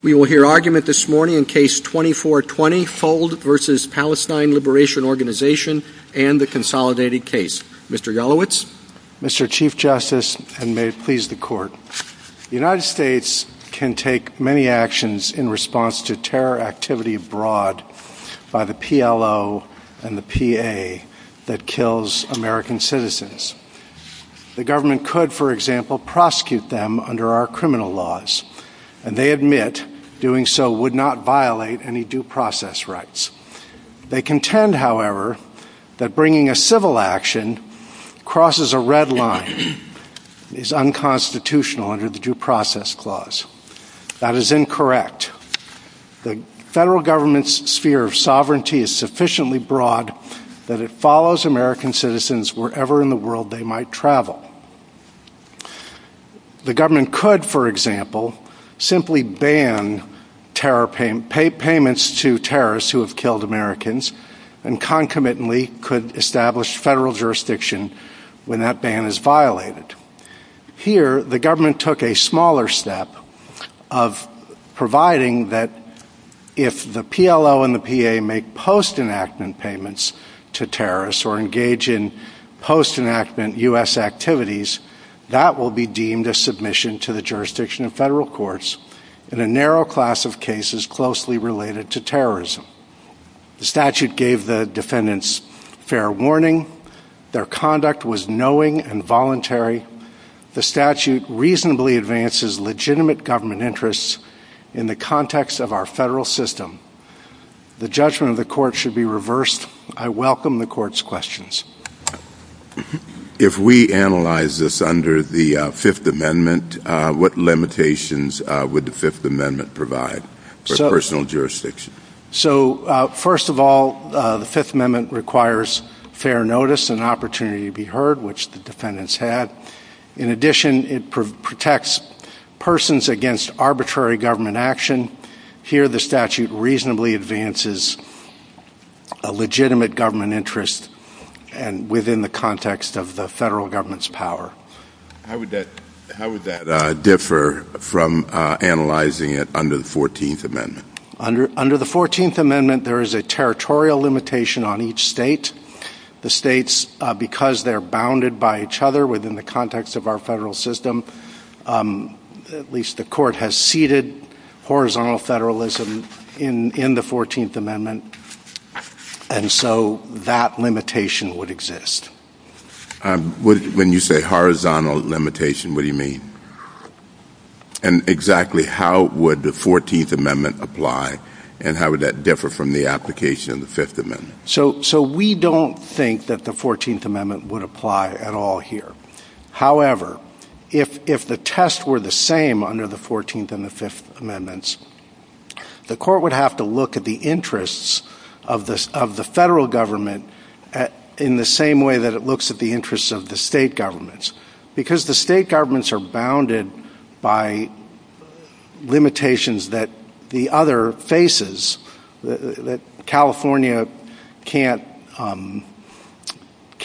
We will hear argument this morning in Case 2420, HOLD v. Palestine Liberation Organization and the Consolidated Case. Mr. Yelowitz. Mr. Chief Justice, and may it please the Court, the United States can take many actions in response to terror activity abroad by the PLO and the PA that kills American citizens. The government could, for example, prosecute them under our criminal laws, and they admit doing so would not violate any due process rights. They contend, however, that bringing a civil action crosses a red line, is unconstitutional under the Due Process Clause. That is incorrect. The federal government's sphere of sovereignty is sufficiently broad that it follows American citizens wherever in the world they might travel. The government could, for example, simply ban payments to terrorists who have killed Americans and concomitantly could establish federal jurisdiction when that ban is violated. Here the government took a smaller step of providing that if the PLO and the PA make post-enactment payments to terrorists or engage in post-enactment U.S. activities, that will be deemed a submission to the jurisdiction of federal courts in a narrow class of cases closely related to terrorism. The statute gave the defendants fair warning. Their conduct was knowing and voluntary. The statute reasonably advances legitimate government interests in the context of our federal system. The judgment of the court should be reversed. I welcome the court's questions. If we analyze this under the Fifth Amendment, what limitations would the Fifth Amendment provide for personal jurisdiction? So first of all, the Fifth Amendment requires fair notice and opportunity to be heard, which the defendants had. In addition, it protects persons against arbitrary government action. Here the statute reasonably advances a legitimate government interest and within the context of the federal government's power. How would that differ from analyzing it under the Fourteenth Amendment? Under the Fourteenth Amendment, there is a territorial limitation on each state. The states, because they're bounded by each other within the context of our federal system, at least the court has ceded horizontal federalism in the Fourteenth Amendment, and so that limitation would exist. When you say horizontal limitation, what do you mean? And exactly how would the Fourteenth Amendment apply, and how would that differ from the application of the Fifth Amendment? So we don't think that the Fourteenth Amendment would apply at all here. However, if the tests were the same under the Fourteenth and the Fifth Amendments, the court would have to look at the interests of the federal government in the same way that it looks at the interests of the state governments, because the state governments are bounded by limitations that the other faces, that California can't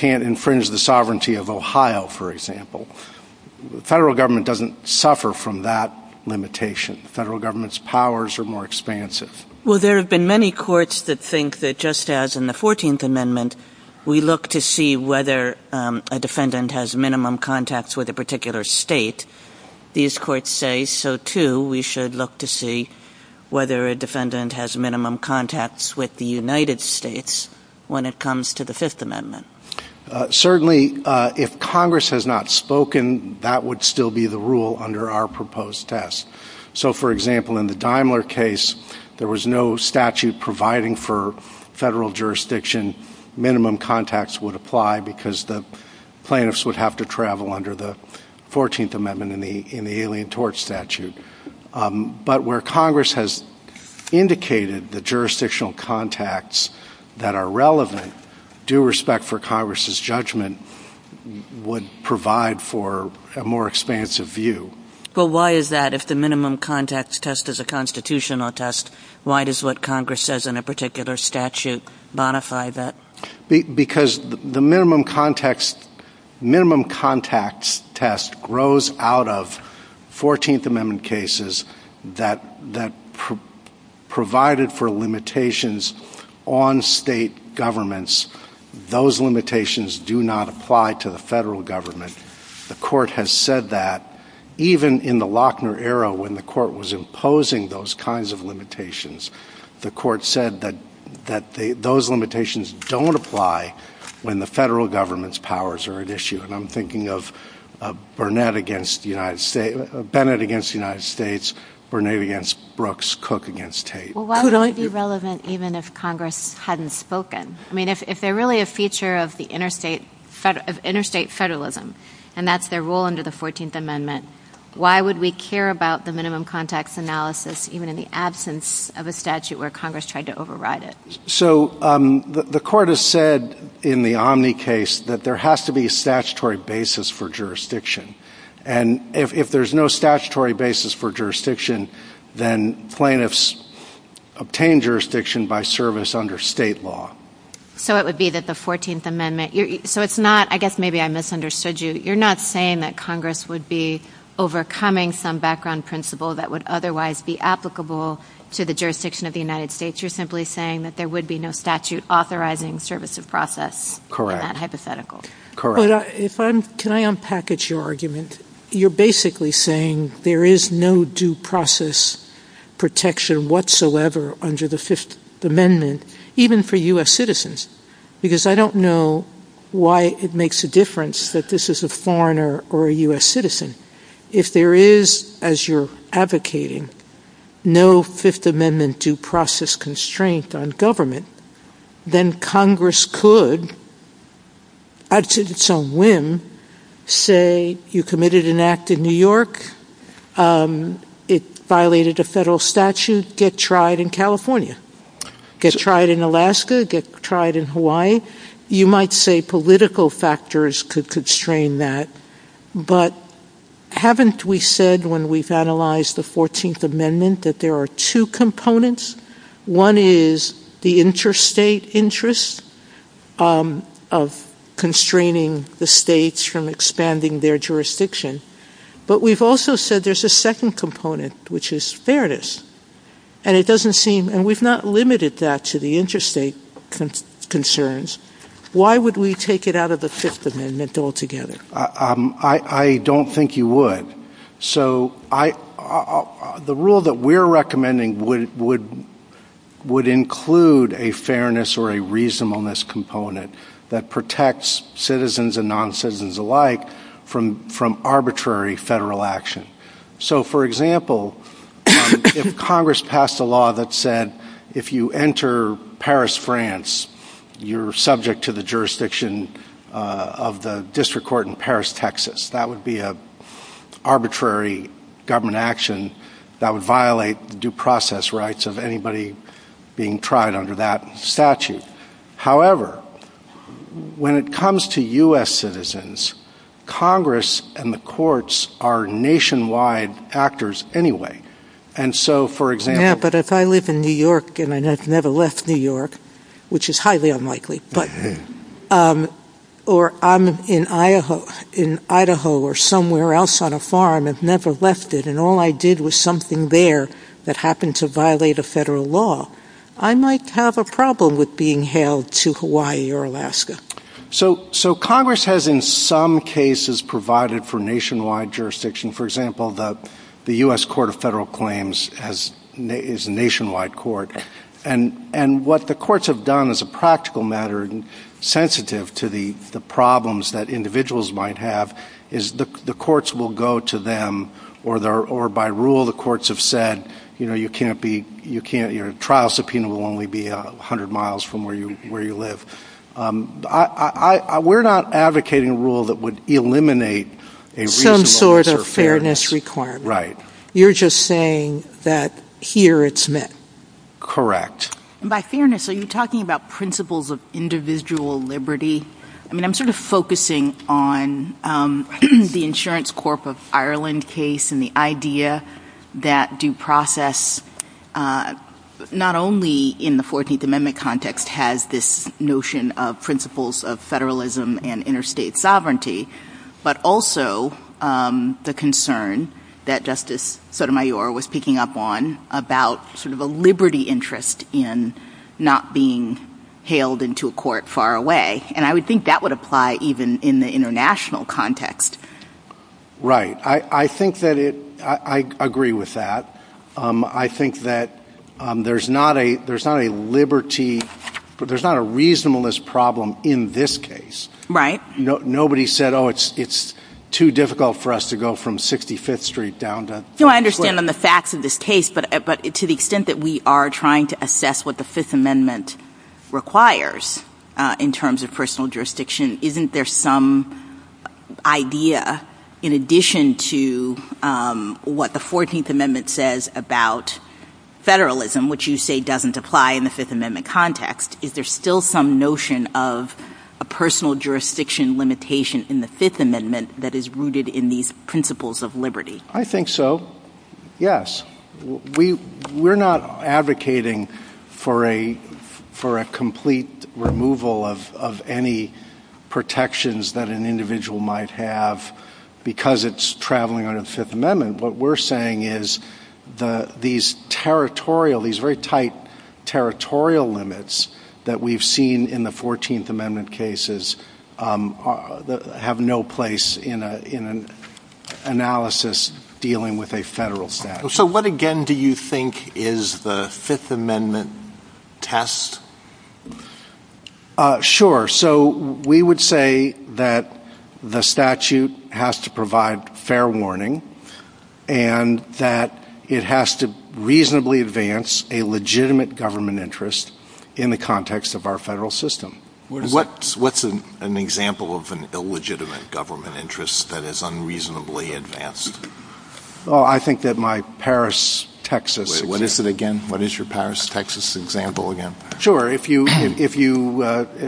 infringe the sovereignty of Ohio, for example. Federal government doesn't suffer from that limitation. Federal government's powers are more expansive. Well, there have been many courts that think that just as in the Fourteenth Amendment, we look to see whether a defendant has minimum contacts with a particular state, these courts say so, too, we should look to see whether a defendant has minimum contacts with the United States when it comes to the Fifth Amendment. Certainly, if Congress has not spoken, that would still be the rule under our proposed test. So, for example, in the Daimler case, there was no statute providing for federal jurisdiction minimum contacts would apply because the plaintiffs would have to travel under the Fourteenth Amendment in the Alien Tort Statute. But where Congress has indicated the jurisdictional contacts that are relevant, due respect for Congress's judgment, would provide for a more expansive view. Well, why is that? If the minimum contacts test is a constitutional test, why does what Congress says in a particular statute modify that? Because the minimum contacts test grows out of Fourteenth Amendment cases that provided for limitations on state governments. Those limitations do not apply to the federal government. The Court has said that even in the Lochner era when the Court was imposing those kinds of limitations, the Court said that those limitations don't apply when the federal government's powers are at issue. And I'm thinking of Bennett against the United States, Burnett against Brooks, Cook against Tate. Well, why would they be relevant even if Congress hadn't spoken? I mean, if they're really a feature of interstate federalism, and that's their role under the Fourteenth Amendment, why would we care about the minimum contacts analysis even in the absence of a statute where Congress tried to override it? So the Court has said in the Omni case that there has to be a statutory basis for jurisdiction. And if there's no statutory basis for jurisdiction, then plaintiffs obtain jurisdiction by service under state law. So it would be that the Fourteenth Amendment, so it's not, I guess maybe I misunderstood you, you're not saying that Congress would be overcoming some background principle that would otherwise be applicable to the jurisdiction of the United States, you're simply saying that there would be no statute authorizing service of process in that hypothetical? Correct. Can I unpackage your argument? You're basically saying there is no due process protection whatsoever under the Fifth Amendment, even for U.S. citizens, because I don't know why it makes a difference that this is a foreigner or a U.S. citizen. If there is, as you're advocating, no Fifth Amendment due process constraint on government, then Congress could, up to its own whim, say you committed an act in New York, it violated a federal statute, get tried in California, get tried in Alaska, get tried in Hawaii. You might say political factors could constrain that. But haven't we said when we've analyzed the Fourteenth Amendment that there are two components? One is the interstate interest of constraining the states from expanding their jurisdiction. But we've also said there's a second component, which is fairness. And it doesn't seem, and we've not limited that to the interstate concerns. Why would we take it out of the Fifth Amendment altogether? I don't think you would. So the rule that we're recommending would include a fairness or a reasonableness component that protects citizens and noncitizens alike from arbitrary federal action. So for example, if Congress passed a law that said if you enter Paris, France, you're subject to the jurisdiction of the district court in Paris, Texas. That would be an arbitrary government action that would violate due process rights of anybody being tried under that statute. However, when it comes to U.S. citizens, Congress and the courts are nationwide actors anyway. And so for example... Yeah, but if I live in New York and I've never left New York, which is highly unlikely, or I'm in Idaho or somewhere else on a farm and have never left it, and all I did was something there that happened to violate a federal law, I might have a problem with being held to Hawaii or Alaska. So Congress has in some cases provided for nationwide jurisdiction. For example, the U.S. Court of Federal Claims is a nationwide court. And what the courts have done as a practical matter, sensitive to the problems that individuals might have, is the courts will go to them, or by rule the courts have said, you know, you can't be... Your trial subpoena will only be 100 miles from where you live. We're not advocating a rule that would eliminate a reasonableness or fairness. Some sort of fairness requirement. Right. You're just saying that here it's met. Correct. And by fairness, are you talking about principles of individual liberty? I mean, I'm sort of focusing on the Insurance Corp of Ireland case and the idea that due process not only in the 14th Amendment context has this notion of principles of federalism and interstate sovereignty, but also the concern that Justice Sotomayor was picking up on about sort of a liberty interest in not being hailed into a court far away. And I would think that would apply even in the international context. Right. I think that it... I agree with that. I think that there's not a liberty, there's not a reasonableness problem in this case. Right. Nobody said, oh, it's too difficult for us to go from 65th Street down to... No, I understand on the facts of this case, but to the extent that we are trying to assess what the Fifth Amendment requires in terms of personal jurisdiction, isn't there some idea, in addition to what the 14th Amendment says about federalism, which you say doesn't apply in the Fifth Amendment context, is there still some notion of a personal jurisdiction limitation in the Fifth Amendment that is rooted in these principles of liberty? I think so, yes. We're not advocating for a complete removal of any protections that an individual might have because it's traveling under the Fifth Amendment. What we're saying is these territorial, these very tight territorial limits that we've seen in the 14th Amendment cases have no place in an analysis dealing with a federal statute. So what again do you think is the Fifth Amendment test? Sure. So we would say that the statute has to provide fair warning and that it has to reasonably advance a legitimate government interest in the context of our federal system. What's an example of an illegitimate government interest that is unreasonably advanced? Well, I think that my Paris, Texas... Wait, what is it again? What is your Paris, Texas example again? Sure. If you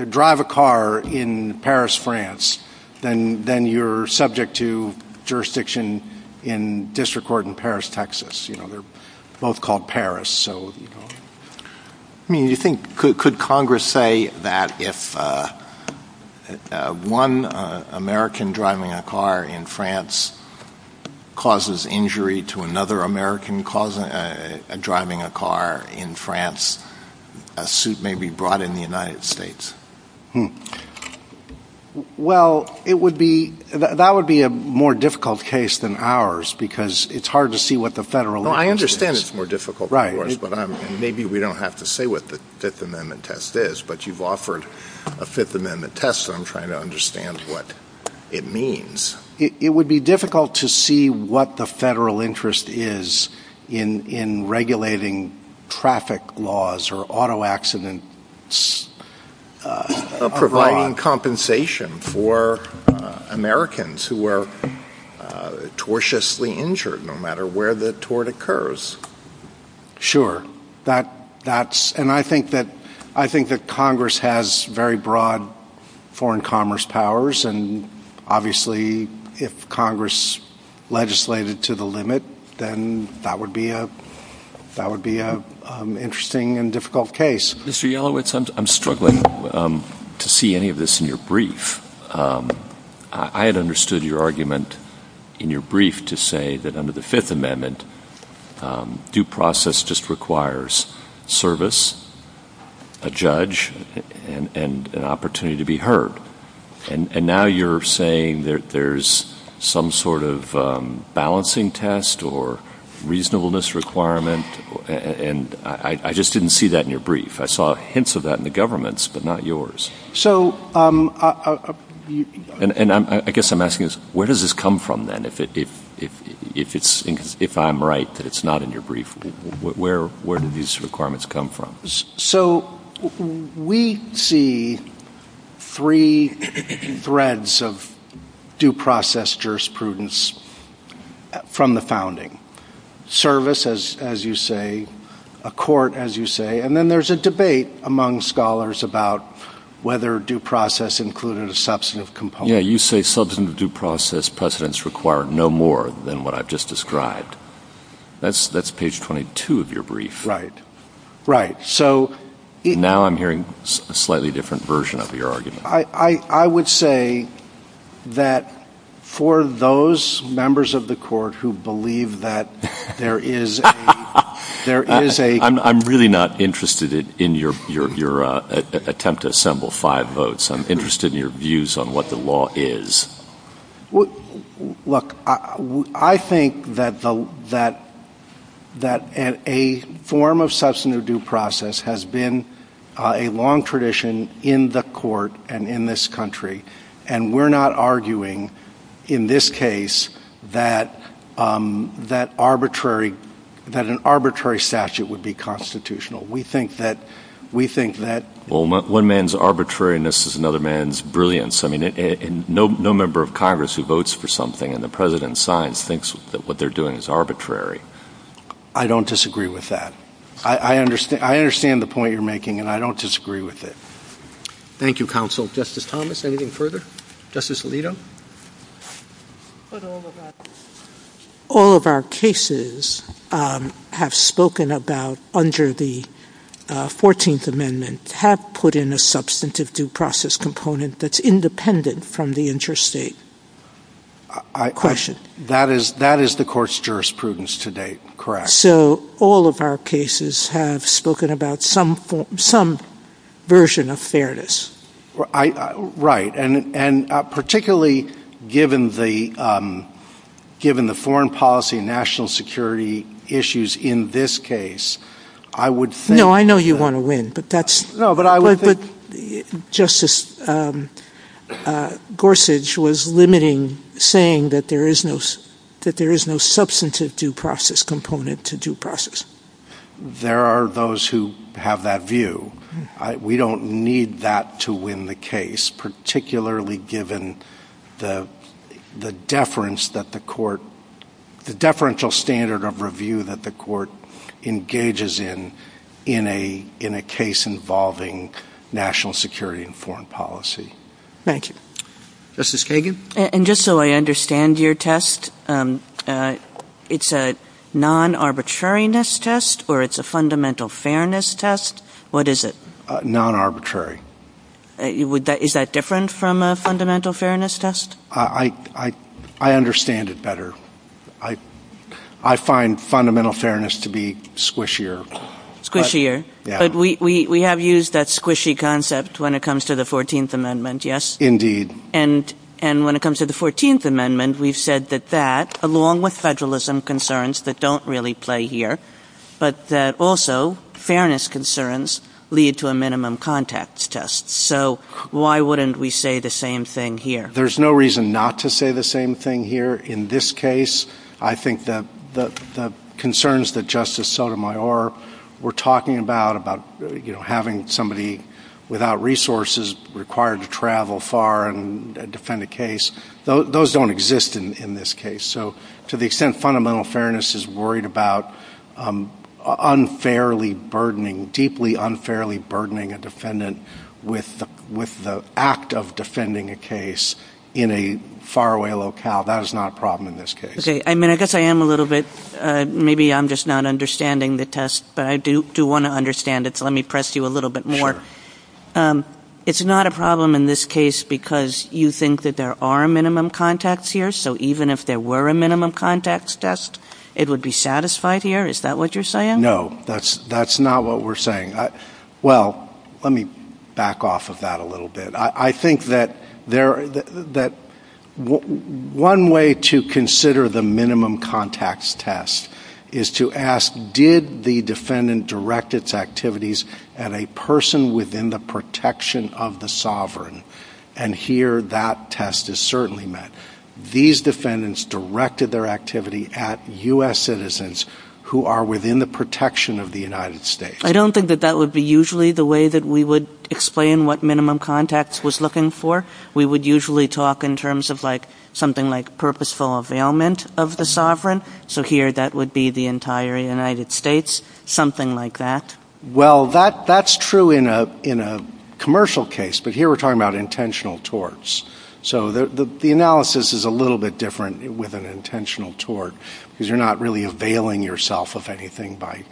drive a car in Paris, France, then you're subject to jurisdiction in district court in Paris, Texas. You know, they're both called Paris, so, you know. I mean, you think, could Congress say that if one American driving a car in France causes injury to another American driving a car in France, a suit may be brought in the United States? Well, it would be, that would be a more difficult case than ours because it's hard to see what the federal... Well, I understand it's more difficult than ours, but maybe we don't have to say what the Fifth Amendment test is, but you've offered a Fifth Amendment test and I'm trying to understand what it means. It would be difficult to see what the federal interest is in regulating traffic laws or auto accidents. Providing compensation for Americans who were tortiously injured, no matter where the tort occurs. Sure. That, that's, and I think that, I think that Congress has very broad foreign commerce powers and obviously if Congress legislated to the limit, then that would be a, that would be a interesting and difficult case. Mr. Yelowitz, I'm struggling to see any of this in your brief. I had understood your argument in your brief to say that under the Fifth Amendment, due process just requires service, a judge, and an opportunity to be heard. And now you're saying that there's some sort of balancing test or reasonableness requirement and I just didn't see that in your brief. I saw hints of that in the government's, but not yours. So, um, and I guess I'm asking is, where does this come from then if it, if it's, if I'm right that it's not in your brief, where, where did these requirements come from? So we see three threads of due process jurisprudence from the founding, service as you say, a court as you say, and then there's a debate among scholars about whether due process included a substantive component. You say substantive due process precedents require no more than what I've just described. That's that's page 22 of your brief. Right. Right. So now I'm hearing a slightly different version of your argument. I would say that for those members of the court who believe that there is, there is a, I'm, I'm really not interested in your, your, your attempt to assemble five votes. I'm interested in your views on what the law is. Well, look, I think that the, that, that at a form of substantive due process has been a long tradition in the court and in this country, and we're not arguing in this case that, um, that arbitrary, that an arbitrary statute would be constitutional. We think that we think that one man's arbitrariness is another man's brilliance. I mean, no, no member of Congress who votes for something and the president signs thinks that what they're doing is arbitrary. I don't disagree with that. I understand. I understand the point you're making and I don't disagree with it. Thank you, counsel. Justice Thomas. Anything further? Justice Alito. All of our cases, um, have spoken about under the, uh, 14th amendment have put in a substantive due process component that's independent from the interstate question. That is, that is the court's jurisprudence to date. Correct. So all of our cases have spoken about some, some version of fairness, right? And, and, uh, particularly given the, um, given the foreign policy, national security issues in this case, I would say, no, I know you want to win, but that's no, but I would, but justice, um, uh, Gorsuch was limiting saying that there is no, that there is no substantive due process component to due process. There are those who have that view. We don't need that to win the case, particularly given the, the deference that the court, the deferential standard of review that the court engages in, in a, in a case involving national security and foreign policy. Thank you. Justice Kagan. And just so I understand your test, um, uh, it's a non-arbitrariness test or it's a fundamental fairness test. What is it? Uh, non-arbitrary. Uh, would that, is that different from a fundamental fairness test? I, I, I understand it better. I, I find fundamental fairness to be squishier, squishier, but we, we, we have used that squishy concept when it comes to the 14th amendment. Yes. Indeed. And, and when it comes to the 14th amendment, we've said that that along with federalism concerns that don't really play here, but that also fairness concerns lead to a minimum contact test. So why wouldn't we say the same thing here? There's no reason not to say the same thing here in this case. I think that the, the concerns that Justice Sotomayor were talking about, about, you know, having somebody without resources required to travel far and defend a case, those don't exist in this case. So to the extent fundamental fairness is worried about, um, unfairly burdening, deeply unfairly burdening a defendant with, with the act of defending a case in a faraway locale, that is not a problem in this case. Okay. I mean, I guess I am a little bit, uh, maybe I'm just not understanding the test, but I do, do want to understand it. So let me press you a little bit more. Um, it's not a problem in this case because you think that there are minimum contacts here. So even if there were a minimum contacts test, it would be satisfied here. Is that what you're saying? No, that's, that's not what we're saying. I, well, let me back off of that a little bit. I think that there, that one way to consider the minimum contacts test is to ask, did the defendant direct its activities and a person within the protection of the sovereign? And here that test is certainly met. These defendants directed their activity at US citizens who are within the protection of the United States. I don't think that that would be usually the way that we would explain what minimum contacts was looking for. We would usually talk in terms of like something like purposeful availment of the sovereign. So here that would be the entire United States, something like that. Well, that, that's true in a, in a commercial case, but here we're talking about intentional torts. So the, the, the analysis is a little bit different with an intentional tort because you're not really availing yourself of anything by,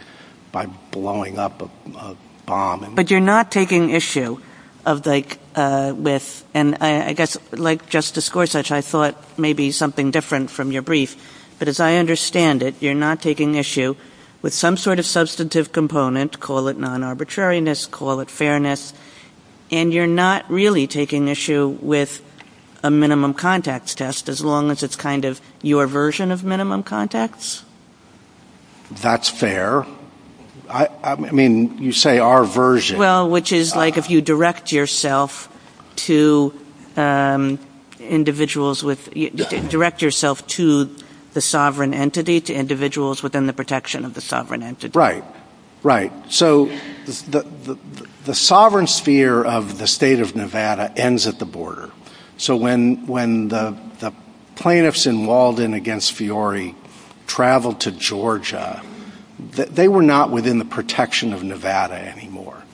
by blowing up a bomb. But you're not taking issue of like, uh, with, and I guess like Justice Gorsuch, I thought maybe something different from your brief, but as I understand it, you're not taking issue with some sort of substantive component, call it non-arbitrariness, call it fairness. And you're not really taking issue with a minimum contacts test as long as it's kind of your version of minimum contacts. That's fair. I mean, you say our version. Well, which is like, if you direct yourself to, um, individuals with direct yourself to the sovereign entity to individuals within the protection of the sovereign entity. Right, right. So the, the, the sovereign sphere of the state of Nevada ends at the border. So when, when the plaintiffs in Walden against Fiore traveled to Georgia, they were not within the protection of Nevada anymore.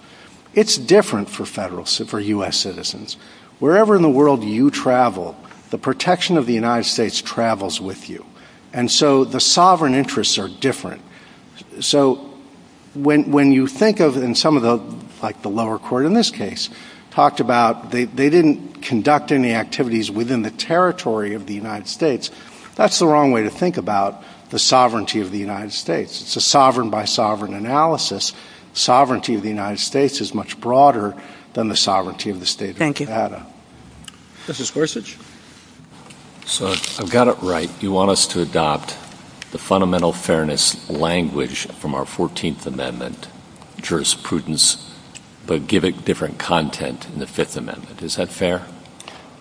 It's different for federal, for US citizens, wherever in the world you travel, the protection of the United States travels with you. And so the sovereign interests are different. So when, when you think of, and some of the, like the lower court in this case talked about they, they didn't conduct any activities within the territory of the United States. That's the wrong way to think about the sovereignty of the United States. It's a sovereign by sovereign analysis. Sovereignty of the United States is much broader than the sovereignty of the state of Nevada. Justice Gorsuch. So I've got it right. Do you want us to adopt the fundamental fairness language from our 14th amendment jurisprudence, but give it different content in the fifth amendment? Is that fair?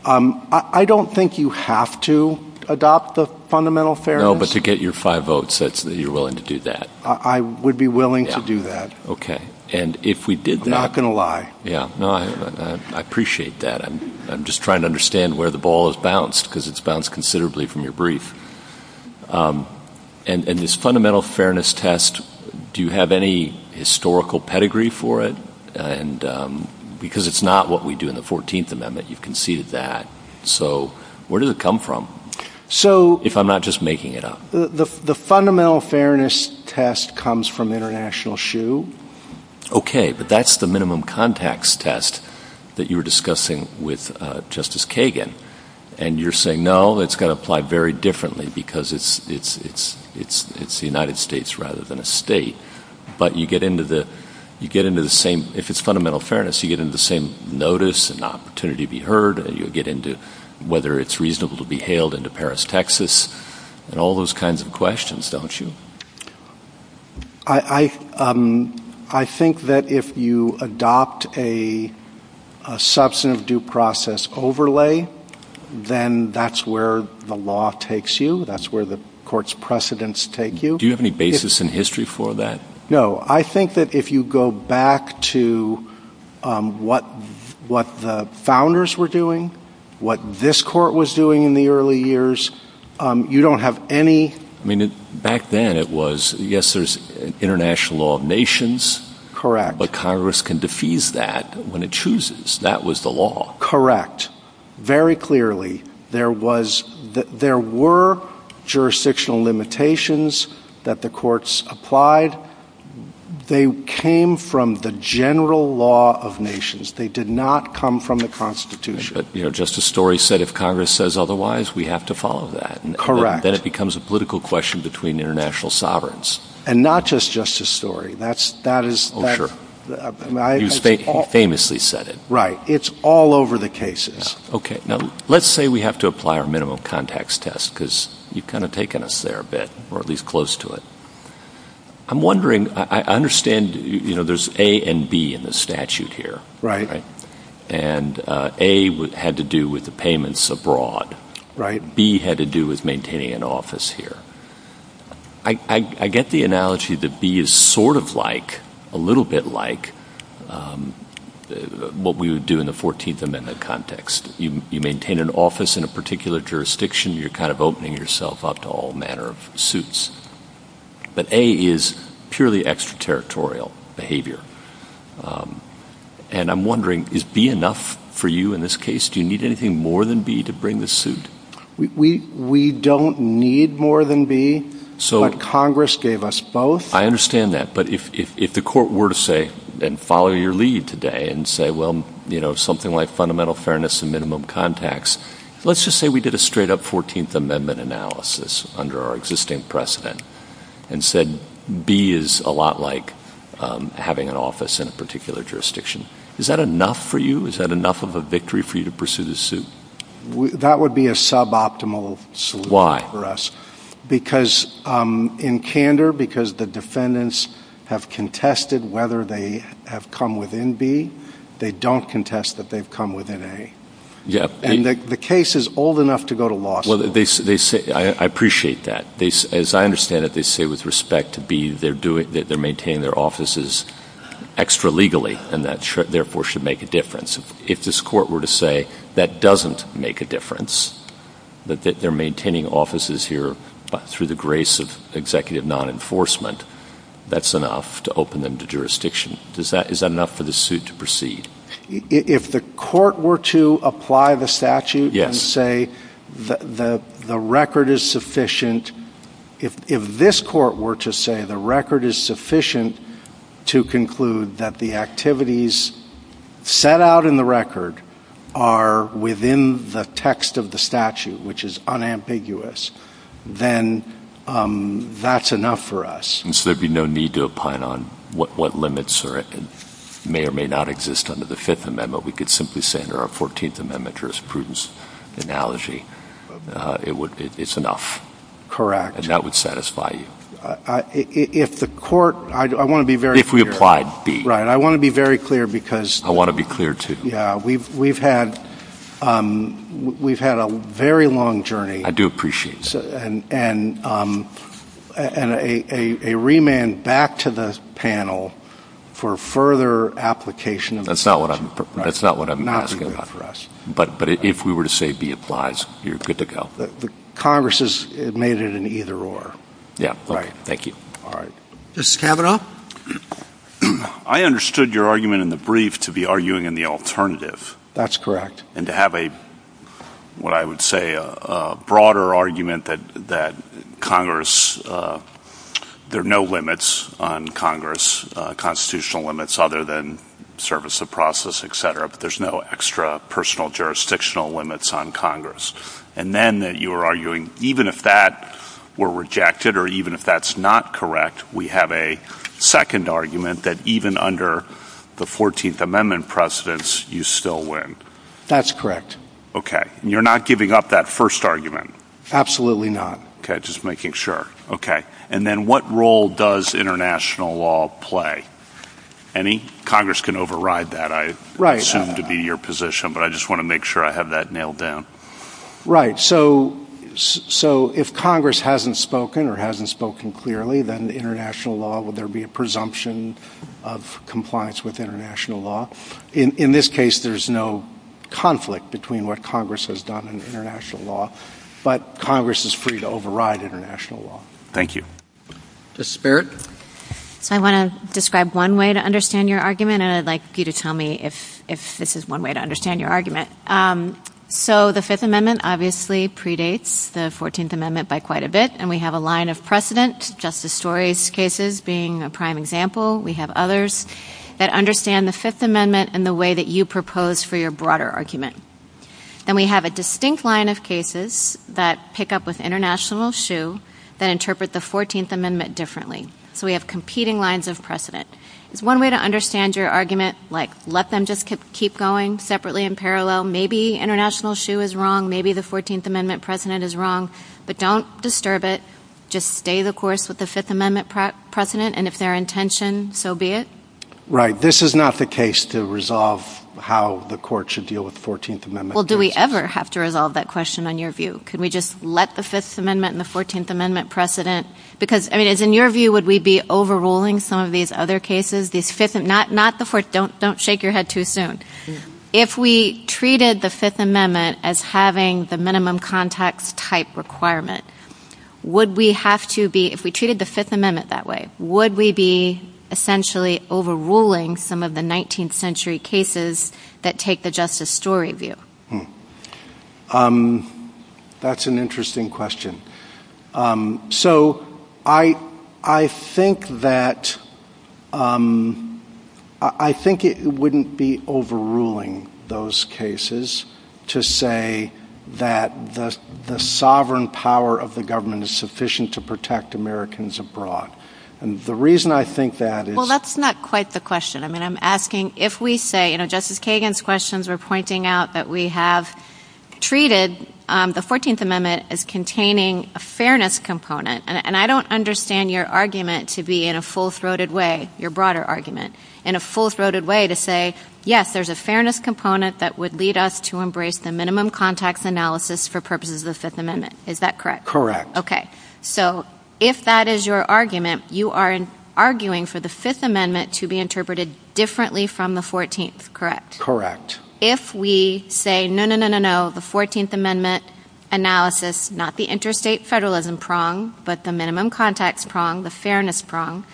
Um, I don't think you have to adopt the fundamental fairness. No, but to get your five votes, that you're willing to do that. I would be willing to do that. Okay. And if we did that. I'm not going to lie. Yeah. No, I appreciate that. I'm just trying to understand where the ball is balanced because it's bounced considerably from your brief. Um, and, and this fundamental fairness test, do you have any historical pedigree for it? And, um, because it's not what we do in the 14th amendment, you've conceded that. So where does it come from? So if I'm not just making it up, the fundamental fairness test comes from international shoe. Okay. But that's the minimum context test that you were discussing with justice Kagan. And you're saying, no, that's going to apply very differently because it's, it's, it's, it's, it's the United States rather than a state, but you get into the, you get into the same, if it's fundamental fairness, you get into the same notice and opportunity to be heard. And you'll get into whether it's reasonable to be hailed into Paris, Texas, and all those kinds of questions, don't you? I, I, um, I think that if you adopt a, a substantive due process overlay, then that's where the law takes you. That's where the court's precedents take you. Do you have any basis in history for that? No. I think that if you go back to, um, what, what the founders were doing, what this court was doing in the early years, um, you don't have any. I mean, back then it was, yes, there's international law of nations, but Congress can defuse that when it chooses. That was the law. Very clearly there was, there were jurisdictional limitations that the courts applied. They came from the general law of nations. They did not come from the constitution. You know, just a story set. If Congress says otherwise, we have to follow that. Correct. Then it becomes a political question between international sovereigns. And not just, just a story. That's, that is. Oh, sure. He famously said it. Right. It's all over the cases. Okay. Now let's say we have to apply our minimum contacts test because you've kind of taken us there a bit, or at least close to it. I'm wondering, I understand, you know, there's A and B in the statute here. Right. And, uh, A had to do with the payments abroad. Right. And B had to do with maintaining an office here. I get the analogy that B is sort of like, a little bit like, um, what we would do in the 14th amendment context. You maintain an office in a particular jurisdiction, you're kind of opening yourself up to all manner of suits. But A is purely extraterritorial behavior. Um, and I'm wondering, is B enough for you in this case? Do you need anything more than B to bring the suit? We, we, we don't need more than B, but Congress gave us both. I understand that. But if, if, if the court were to say, and follow your lead today and say, well, you know, something like fundamental fairness and minimum contacts, let's just say we did a straight up 14th amendment analysis under our existing precedent and said B is a lot like, um, having an office in a particular jurisdiction. Is that enough for you? Is that enough of a victory for you to pursue the suit? That would be a suboptimal solution for us. Because, um, in candor, because the defendants have contested whether they have come within B, they don't contest that they've come within A. Yeah. And the case is old enough to go to law school. Well, they, they say, I appreciate that. They, as I understand it, they say with respect to B, they're doing, they're maintaining their offices extra legally and that therefore should make a difference. If this court were to say that doesn't make a difference, that they're maintaining offices here through the grace of executive non-enforcement, that's enough to open them to jurisdiction. Does that, is that enough for the suit to proceed? If the court were to apply the statute and say the, the, the record is sufficient, if, if this court were to say the record is sufficient to conclude that the activities set out in the record are within the text of the statute, which is unambiguous, then, um, that's enough for us. And so there'd be no need to opine on what, what limits are, may or may not exist under the Fifth Amendment. We could simply say under our Fourteenth Amendment jurisprudence analogy, uh, it would, it's enough. Correct. And that would satisfy you. I, if the court, I want to be very clear. If we applied B. Right. I want to be very clear because. I want to be clear too. Yeah. We've, we've had, um, we've had a very long journey. I do appreciate that. And, and, um, and a, a, a remand back to the panel for further application. That's not what I'm, that's not what I'm asking for us. But, but if we were to say B applies, you're good to go. Congress has made it in either order. All right. Thank you. All right. Mr. Kavanaugh. I understood your argument in the brief to be arguing in the alternative. That's correct. And to have a, what I would say, a, a broader argument that, that Congress, uh, there are no limits on Congress, uh, constitutional limits other than service, the process, et cetera, but there's no extra personal jurisdictional limits on Congress. And then that you are arguing, even if that were rejected or even if that's not correct, we have a second argument that even under the 14th amendment precedence, you still win. That's correct. Okay. And you're not giving up that first argument. Absolutely not. Okay. Just making sure. Okay. And then what role does international law play? Any Congress can override that. I assume to be your position, but I just want to make sure I have that nailed down. Right. So, so if Congress hasn't spoken or hasn't spoken clearly, then the international law, will there be a presumption of compliance with international law? In, in this case, there's no conflict between what Congress has done in international law, but Congress is free to override international law. Thank you. Ms. Barrett. I want to describe one way to understand your argument and I'd like you to tell me if, if this is one way to understand your argument. Um, so the fifth amendment obviously predates the 14th amendment by quite a bit and we have a line of precedent, justice stories cases being a prime example. We have others that understand the fifth amendment and the way that you propose for your broader argument. Then we have a distinct line of cases that pick up with international shoe that interpret the 14th amendment differently. So we have competing lines of precedent. It's one way to understand your argument. Like let them just keep going separately in parallel. Maybe international shoe is wrong. Maybe the 14th amendment precedent is wrong, but don't disturb it. Just stay the course with the fifth amendment precedent and if their intention, so be it. Right. This is not the case to resolve how the court should deal with the 14th amendment. Well, do we ever have to resolve that question on your view? Can we just let the fifth amendment and the 14th amendment precedent, because I mean, is in your view, would we be overruling some of these other cases? These fifth and not, not the fourth. Don't shake your head too soon. If we treated the fifth amendment as having the minimum context type requirement, would we have to be, if we treated the fifth amendment that way, would we be essentially overruling some of the 19th century cases that take the justice story view? That's an interesting question. So I think that, I think it wouldn't be overruling those cases to say that the sovereign power of the government is sufficient to protect Americans abroad. And the reason I think that is. Well, that's not quite the question. I mean, I'm asking if we say, you know, Justice Kagan's questions are pointing out that we have treated the 14th amendment as containing a fairness component. And I don't understand your argument to be in a full-throated way, your broader argument, in a full-throated way to say, yes, there's a fairness component that would lead us to embrace the minimum context analysis for purposes of the fifth amendment. Is that correct? Correct. Okay. So if that is your argument, you are arguing for the fifth amendment to be interpreted differently from the 14th. Correct? Correct. So if we say, no, no, no, no, no, the 14th amendment analysis, not the interstate federalism prong, but the minimum context prong, the fairness prong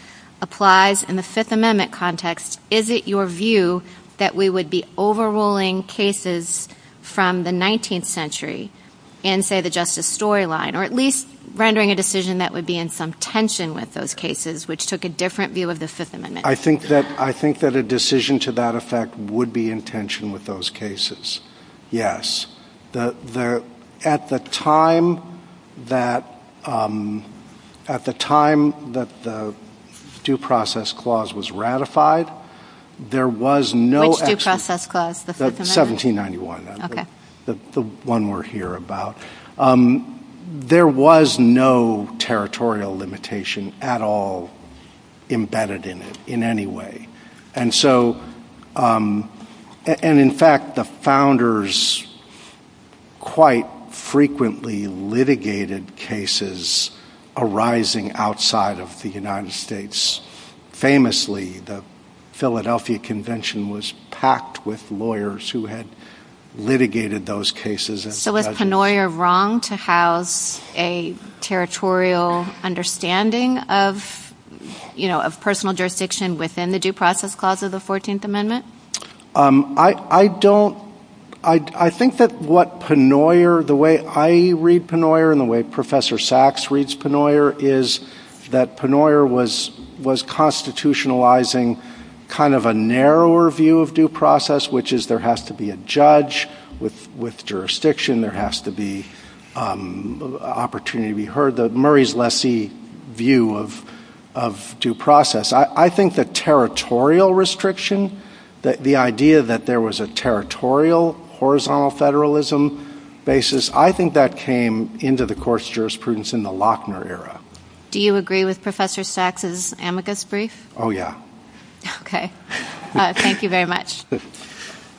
applies in the fifth amendment context. Is it your view that we would be overruling cases from the 19th century in, say, the justice storyline? Or at least rendering a decision that would be in some tension with those cases, which took a different view of the fifth amendment? I think that a decision to that effect would be in tension with those cases, yes. At the time that the due process clause was ratified, there was no… Which due process clause? The fifth amendment? 1791. Okay. The one we're here about. There was no territorial limitation at all embedded in it in any way. And so, and in fact, the founders quite frequently litigated cases arising outside of the United States. Famously, the Philadelphia Convention was packed with lawyers who had litigated those cases. So was Penoyer wrong to have a territorial understanding of, you know, of personal jurisdiction within the due process clause of the 14th amendment? I don't… I think that what Penoyer, the way I read Penoyer and the way Professor Sachs reads Penoyer is that Penoyer was constitutionalizing kind of a narrower view of due process, which is there has to be a judge with jurisdiction, there has to be an opportunity to be heard, Murray's lessee view of due process. I think the territorial restriction, the idea that there was a territorial, horizontal federalism basis, I think that came into the course of jurisprudence in the Lochner era. Do you agree with Professor Sachs' amicus brief? Oh, yeah. Okay. Thank you very much.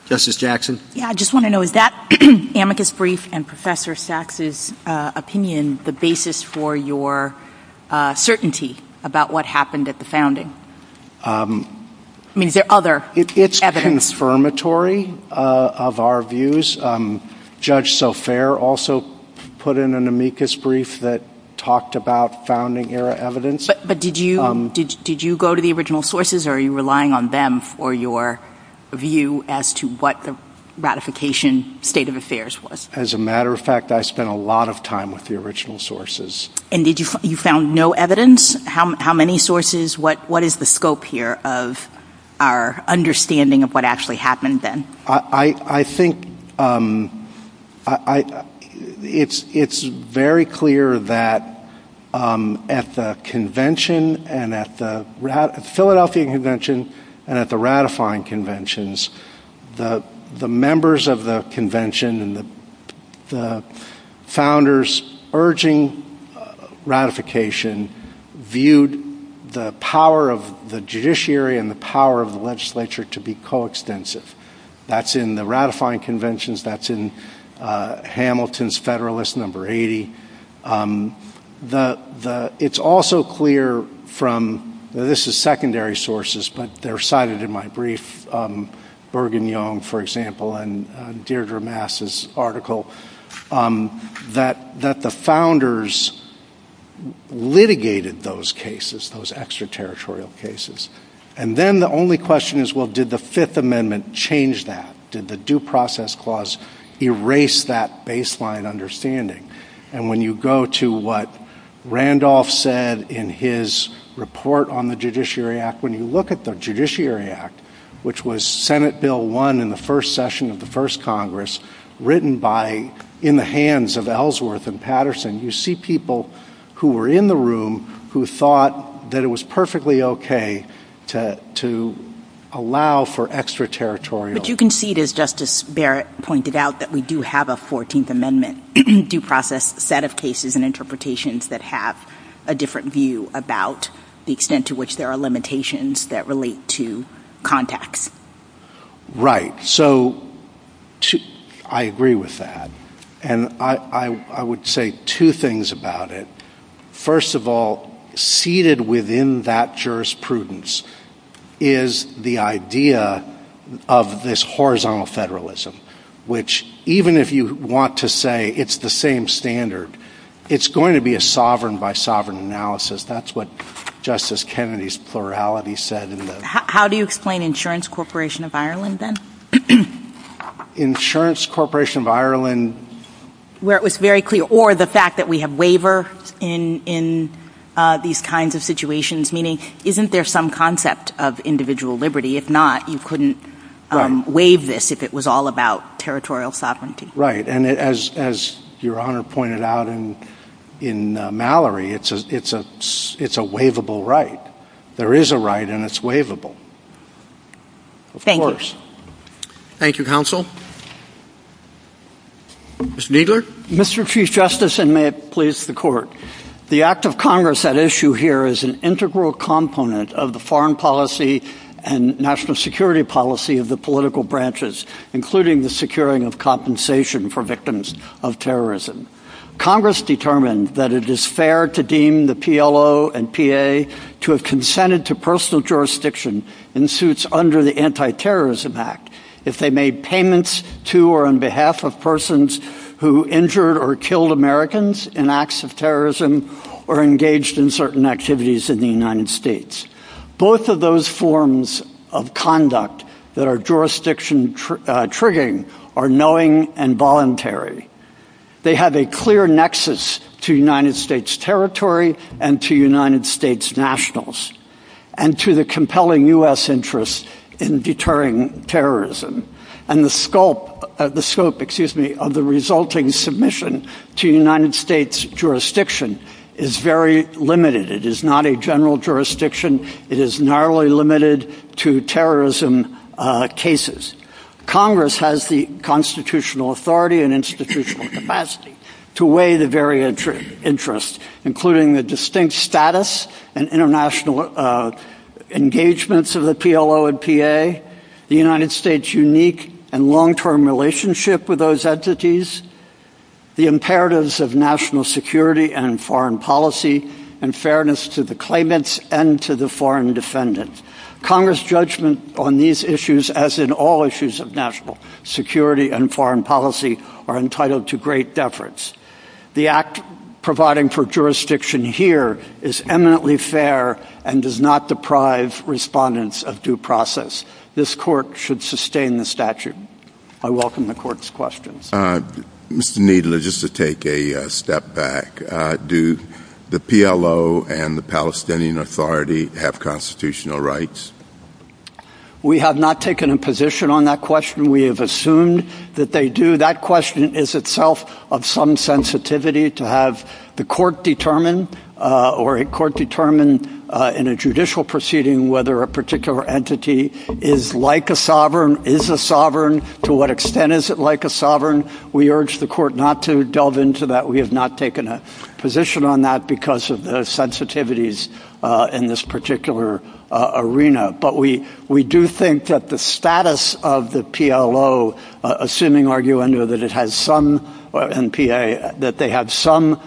Justice Jackson? Yeah, I just want to know, is that amicus brief and Professor Sachs' opinion the basis for your certainty about what happened at the founding? I mean, is there other evidence? It's confirmatory of our views. Judge Sofair also put in an amicus brief that talked about founding era evidence. But did you go to the original sources or are you relying on them for your view as to what the ratification state of affairs was? As a matter of fact, I spent a lot of time with the original sources. And you found no evidence? How many sources? What is the scope here of our understanding of what actually happened then? I think it's very clear that at the convention and at the Philadelphia convention and at the ratifying conventions, the members of the convention and the founders urging ratification viewed the power of the judiciary and the power of the legislature to be coextensive. That's in the ratifying conventions. That's in Hamilton's Federalist No. 80. It's also clear from – this is secondary sources, but they're cited in my brief, Bergen-Young, for example, and Deirdre Mast's article, that the founders litigated those cases, those extraterritorial cases. And then the only question is, well, did the Fifth Amendment change that? Did the Due Process Clause erase that baseline understanding? And when you go to what Randolph said in his report on the Judiciary Act, when you look at the Judiciary Act, which was Senate Bill 1 in the first session of the first Congress, written by – in the hands of Ellsworth and Patterson, you see people who were in the room who thought that it was perfectly okay to allow for extraterritorial – But you can see, as Justice Barrett pointed out, that we do have a 14th Amendment due process set of cases and interpretations that have a different view about the extent to which there are limitations that relate to context. Right. So I agree with that. And I would say two things about it. First of all, seated within that jurisprudence is the idea of this horizontal federalism, which, even if you want to say it's the same standard, it's going to be a sovereign-by-sovereign analysis. That's what Justice Kennedy's plurality said in the – How do you explain Insurance Corporation of Ireland, then? Insurance Corporation of Ireland – Where it was very clear – or the fact that we have waiver in these kinds of situations, meaning isn't there some concept of individual liberty? If not, you couldn't waive this if it was all about territorial sovereignty. Right. And as Your Honor pointed out in Mallory, it's a waivable right. There is a right, and it's waivable. Thank you. Of course. Thank you, Counsel. Mr. Kneedler? Mr. Chief Justice, and may it please the Court, the Act of Congress, that issue here, is an integral component of the foreign policy and national security policy of the political branches, including the securing of compensation for victims of terrorism. Congress determined that it is fair to deem the PLO and PA to have consented to personal jurisdiction in suits under the Anti-Terrorism Act if they made payments to or on behalf of persons who injured or killed Americans in acts of terrorism or engaged in certain activities in the United States. Both of those forms of conduct that are jurisdiction-triggering are knowing and voluntary. They have a clear nexus to United States territory and to United States nationals and to the compelling U.S. interests in deterring terrorism. And the scope of the resulting submission to United States jurisdiction is very limited. It is not a general jurisdiction. It is narrowly limited to terrorism cases. Congress has the constitutional authority and institutional capacity to weigh the various interests, including the distinct status and international engagements of the PLO and PA, the United States' unique and long-term relationship with those entities, the imperatives of national security and foreign policy, and fairness to the claimants and to the foreign defendants. Congress' judgment on these issues, as in all issues of national security and foreign policy, are entitled to great deference. The act providing for jurisdiction here is eminently fair and does not deprive respondents of due process. This court should sustain the statute. I welcome the court's questions. Mr. Needler, just to take a step back, do the PLO and the Palestinian Authority have constitutional rights? We have not taken a position on that question. We have assumed that they do. That question is itself of some sensitivity to have the court determine or a court determine in a judicial proceeding whether a particular entity is like a sovereign, is a sovereign. To what extent is it like a sovereign? We urge the court not to delve into that. We have not taken a position on that because of the sensitivities in this particular arena. But we do think that the status of the PLO, assuming argument that it has some NPA, that they have some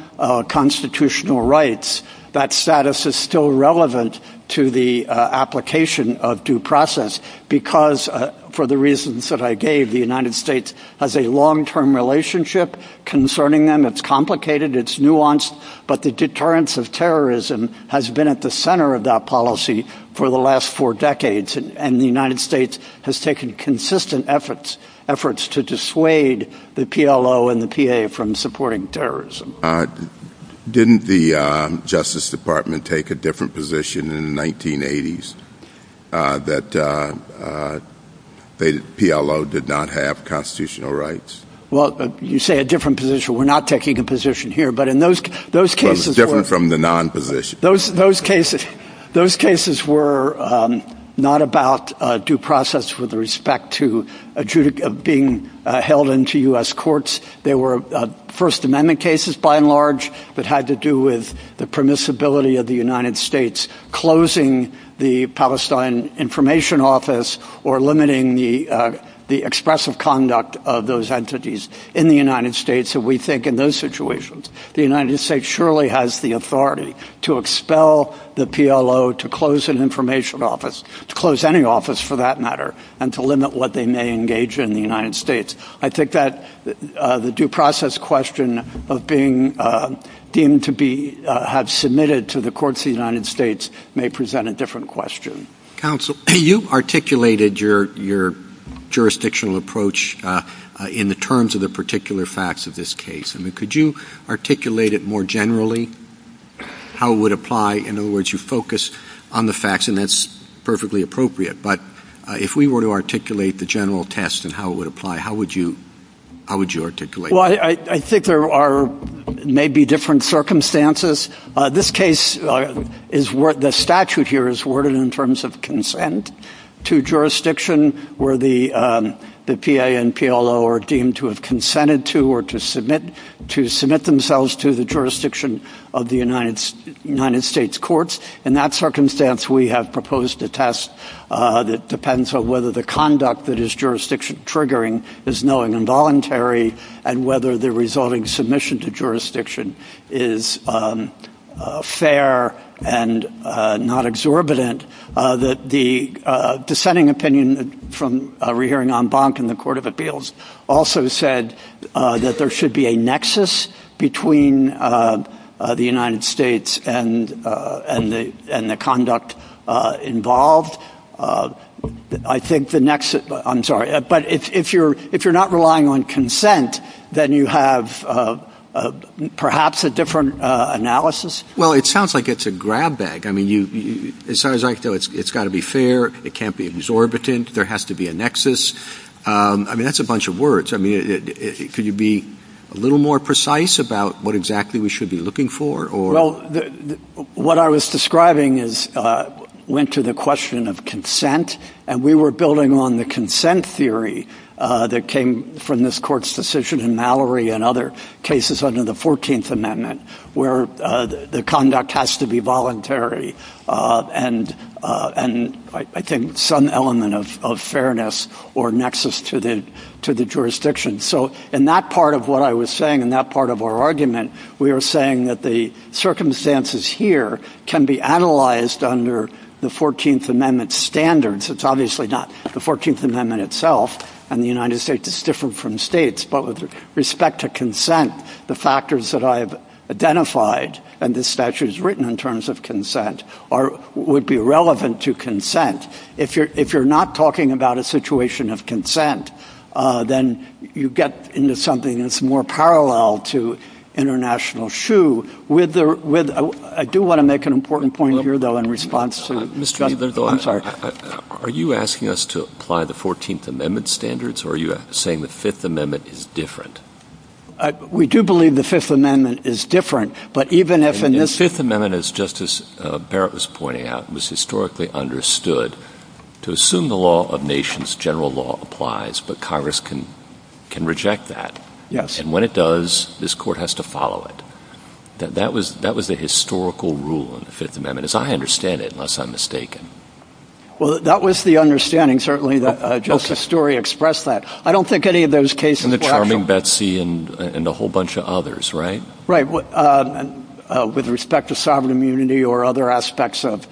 constitutional rights, that status is still relevant to the application of due process because, for the reasons that I gave, the United States has a long-term relationship concerning them. It's complicated. It's nuanced. But the deterrence of terrorism has been at the center of that policy for the last four decades, and the United States has taken consistent efforts to dissuade the PLO and the PA from supporting terrorism. Didn't the Justice Department take a different position in the 1980s that the PLO did not have constitutional rights? Well, you say a different position. We're not taking a position here, but in those cases — It was different from the non-position. Those cases were not about due process with respect to being held into U.S. courts. They were First Amendment cases by and large that had to do with the permissibility of the United States closing the Palestine Information Office or limiting the expressive conduct of those entities in the United States that we think, in those situations, the United States surely has the authority to expel the PLO to close an information office, to close any office for that matter, and to limit what they may engage in in the United States. I think that the due process question of being deemed to have submitted to the courts of the United States may present a different question. Counsel, you articulated your jurisdictional approach in the terms of the particular facts of this case. Could you articulate it more generally, how it would apply? In other words, you focused on the facts, and that's perfectly appropriate. But if we were to articulate the general test and how it would apply, how would you articulate it? Well, I think there may be different circumstances. The statute here is worded in terms of consent to jurisdiction where the PA and PLO are deemed to have consented to or to submit themselves to the jurisdiction of the United States courts. In that circumstance, we have proposed a test that depends on whether the conduct that is jurisdiction-triggering is knowingly involuntary and whether the resulting submission to jurisdiction is fair and not exorbitant. The dissenting opinion from rehearing en banc in the Court of Appeals also said that there should be a nexus between the United States and the conduct involved. I'm sorry, but if you're not relying on consent, then you have perhaps a different analysis? Well, it sounds like it's a grab bag. I mean, it sounds like it's got to be fair. It can't be exorbitant. There has to be a nexus. I mean, that's a bunch of words. I mean, could you be a little more precise about what exactly we should be looking for? Well, what I was describing went to the question of consent, and we were building on the consent theory that came from this court's decision in Mallory and other cases under the 14th Amendment where the conduct has to be voluntary and, I think, some element of fairness or nexus to the jurisdiction. So in that part of what I was saying, in that part of our argument, we were saying that the circumstances here can be analyzed under the 14th Amendment standards. It's obviously not the 14th Amendment itself and the United States. It's different from states. But with respect to consent, the factors that I've identified and the statutes written in terms of consent would be relevant to consent. If you're not talking about a situation of consent, then you get into something that's more parallel to international shoe. I do want to make an important point here, though, in response to Mr. I'm sorry. Are you asking us to apply the 14th Amendment standards, or are you saying the Fifth Amendment is different? We do believe the Fifth Amendment is different. The Fifth Amendment, as Justice Barrett was pointing out, was historically understood to assume the law of nations, general law applies, but Congress can reject that. And when it does, this court has to follow it. That was the historical rule in the Fifth Amendment. As I understand it, unless I'm mistaken. Well, that was the understanding, certainly, that Justice Story expressed that. I don't think any of those cases were actual. And the charming Betsy and a whole bunch of others, right? With respect to sovereign immunity or other aspects of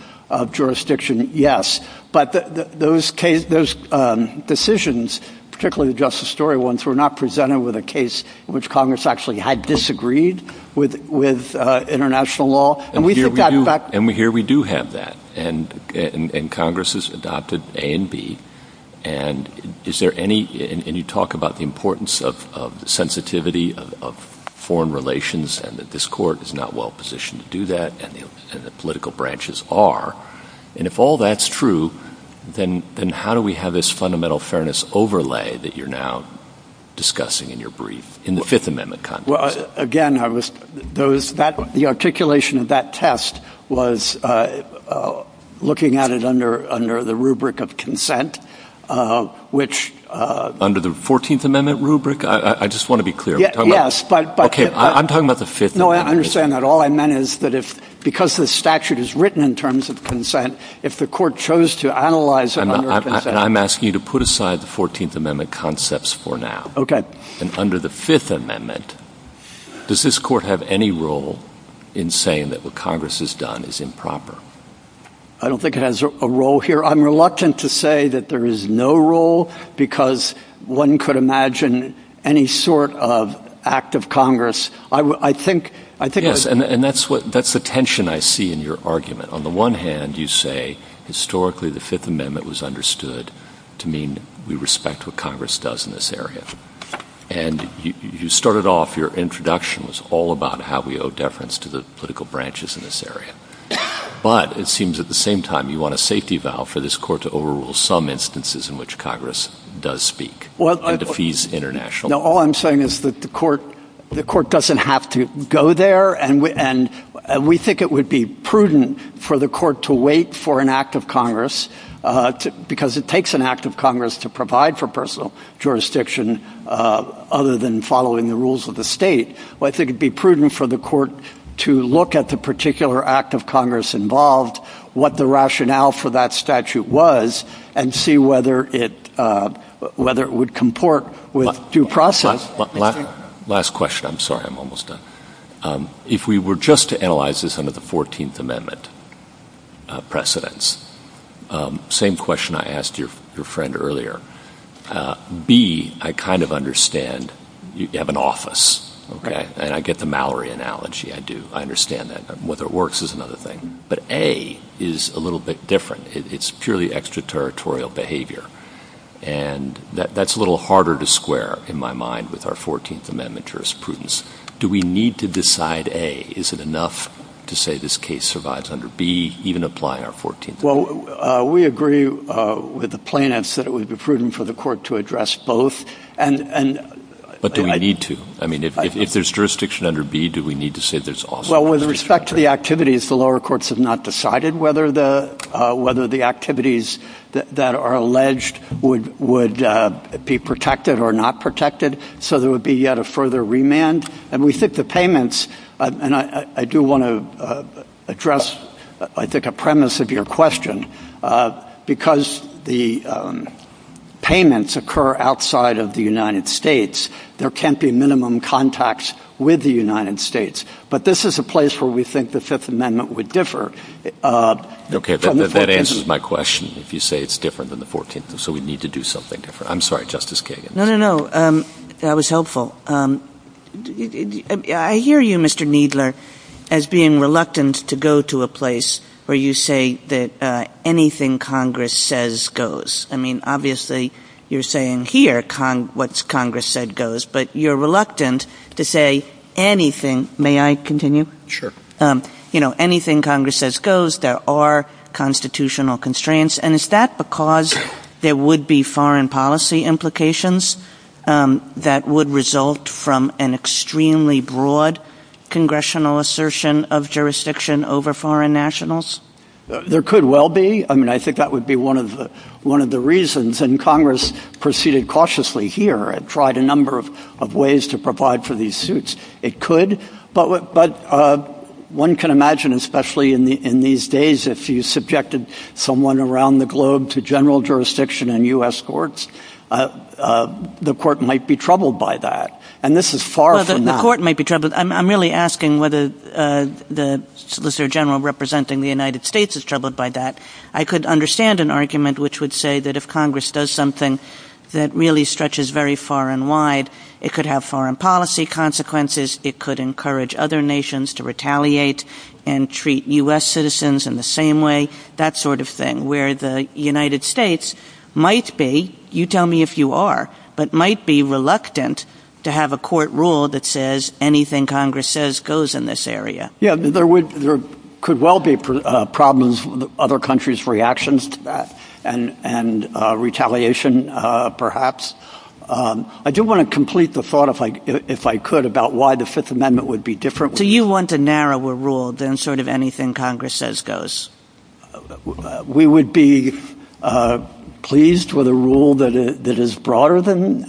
jurisdiction, yes. But those decisions, particularly the Justice Story ones, were not presented with a case in which Congress actually had disagreed with international law. And here we do have that. And Congress has adopted A and B. And you talk about the importance of the sensitivity of foreign relations and that this court is not well positioned to do that, and the political branches are. And if all that's true, then how do we have this fundamental fairness overlay that you're now discussing in your brief in the Fifth Amendment context? Well, again, the articulation of that test was looking at it under the rubric of consent, which... Under the 14th Amendment rubric? I just want to be clear. Yes, but... Okay, I'm talking about the Fifth Amendment. No, I understand that. All I meant is that because the statute is written in terms of consent, if the court chose to analyze it under consent... I'm asking you to put aside the 14th Amendment concepts for now. Okay. And under the Fifth Amendment, does this court have any role in saying that what Congress has done is improper? I don't think it has a role here. I'm reluctant to say that there is no role because one could imagine any sort of act of Congress. I think... Yes, and that's the tension I see in your argument. On the one hand, you say historically the Fifth Amendment was understood to mean we respect what Congress does in this area. And you started off... Your introduction was all about how we owe deference to the political branches in this area. But it seems at the same time you want a safety valve for this court to overrule some instances in which Congress does speak. Well, I... And defeats international. No, all I'm saying is that the court doesn't have to go there. And we think it would be prudent for the court to wait for an act of Congress because it takes an act of Congress to provide for personal jurisdiction other than following the rules of the state. Well, I think it would be prudent for the court to look at the particular act of Congress involved, what the rationale for that statute was, and see whether it would comport with due process. Last question. I'm sorry. I'm almost done. If we were just to analyze this under the Fourteenth Amendment precedents, same question I asked your friend earlier. B, I kind of understand you have an office. And I get the Mallory analogy. I do. I understand that. But whether it works is another thing. But A is a little bit different. It's purely extraterritorial behavior. And that's a little harder to square in my mind with our Fourteenth Amendment jurisprudence. Do we need to decide A? Is it enough to say this case survives under B, even apply our Fourteenth Amendment? Well, we agree with the plaintiffs that it would be prudent for the court to address both. But do we need to? I mean, if there's jurisdiction under B, do we need to say there's also jurisdiction under A? And we think the payments, and I do want to address, I think, a premise of your question. Because the payments occur outside of the United States, there can't be minimum contacts with the United States. But this is a place where we think the Fifth Amendment would differ. Okay. That answers my question, if you say it's different than the Fourteenth Amendment. So we need to do something different. I'm sorry, Justice Kagan. No, no, no. That was helpful. I hear you, Mr. Kneedler, as being reluctant to go to a place where you say that anything Congress says goes. I mean, obviously, you're saying here what Congress said goes. But you're reluctant to say anything. May I continue? You know, anything Congress says goes, there are constitutional constraints. And is that because there would be foreign policy implications that would result from an extremely broad congressional assertion of jurisdiction over foreign nationals? There could well be. I mean, I think that would be one of the reasons. And Congress proceeded cautiously here and tried a number of ways to provide for these suits. It could. But one can imagine, especially in these days, if you subjected someone around the globe to general jurisdiction in U.S. courts, the court might be troubled by that. And this is far from that. The court might be troubled. I'm really asking whether the Solicitor General representing the United States is troubled by that. I could understand an argument which would say that if Congress does something that really stretches very far and wide, it could have foreign policy consequences. It could encourage other nations to retaliate and treat U.S. citizens in the same way, that sort of thing, where the United States might be. You tell me if you are, but might be reluctant to have a court rule that says anything Congress says goes in this area. Yeah, there could well be problems with other countries' reactions to that and retaliation, perhaps. I do want to complete the thought, if I could, about why the Fifth Amendment would be different. Do you want a narrower rule than sort of anything Congress says goes? We would be pleased with a rule that is broader than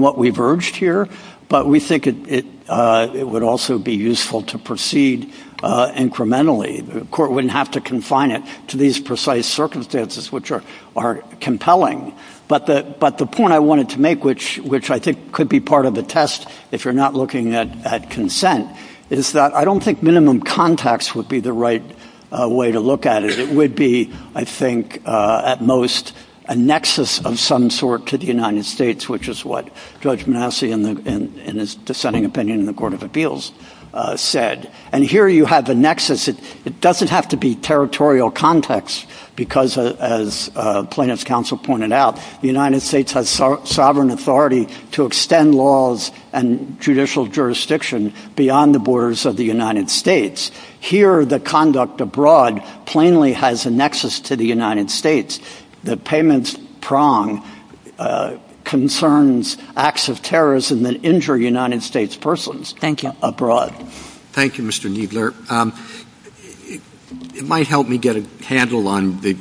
what we've urged here, but we think it would also be useful to proceed incrementally. The court wouldn't have to confine it to these precise circumstances, which are compelling. But the point I wanted to make, which I think could be part of a test if you're not looking at consent, is that I don't think minimum context would be the right way to look at it. It would be, I think, at most, a nexus of some sort to the United States, which is what Judge Manasseh, in his dissenting opinion in the Court of Appeals, said. And here you have a nexus. It doesn't have to be territorial context because, as plaintiff's counsel pointed out, the United States has sovereign authority to extend laws and judicial jurisdiction beyond the borders of the United States. Here, the conduct abroad plainly has a nexus to the United States. The payments prong concerns acts of terrorism that injure United States persons abroad. Thank you, Mr. Kneedler. It might help me get a handle on the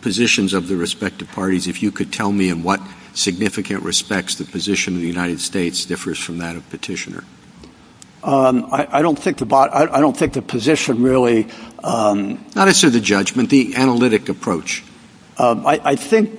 positions of the respective parties if you could tell me in what significant respects the position of the United States differs from that of petitioner. I don't think about I don't think the position really. Not to the judgment, the analytic approach. I think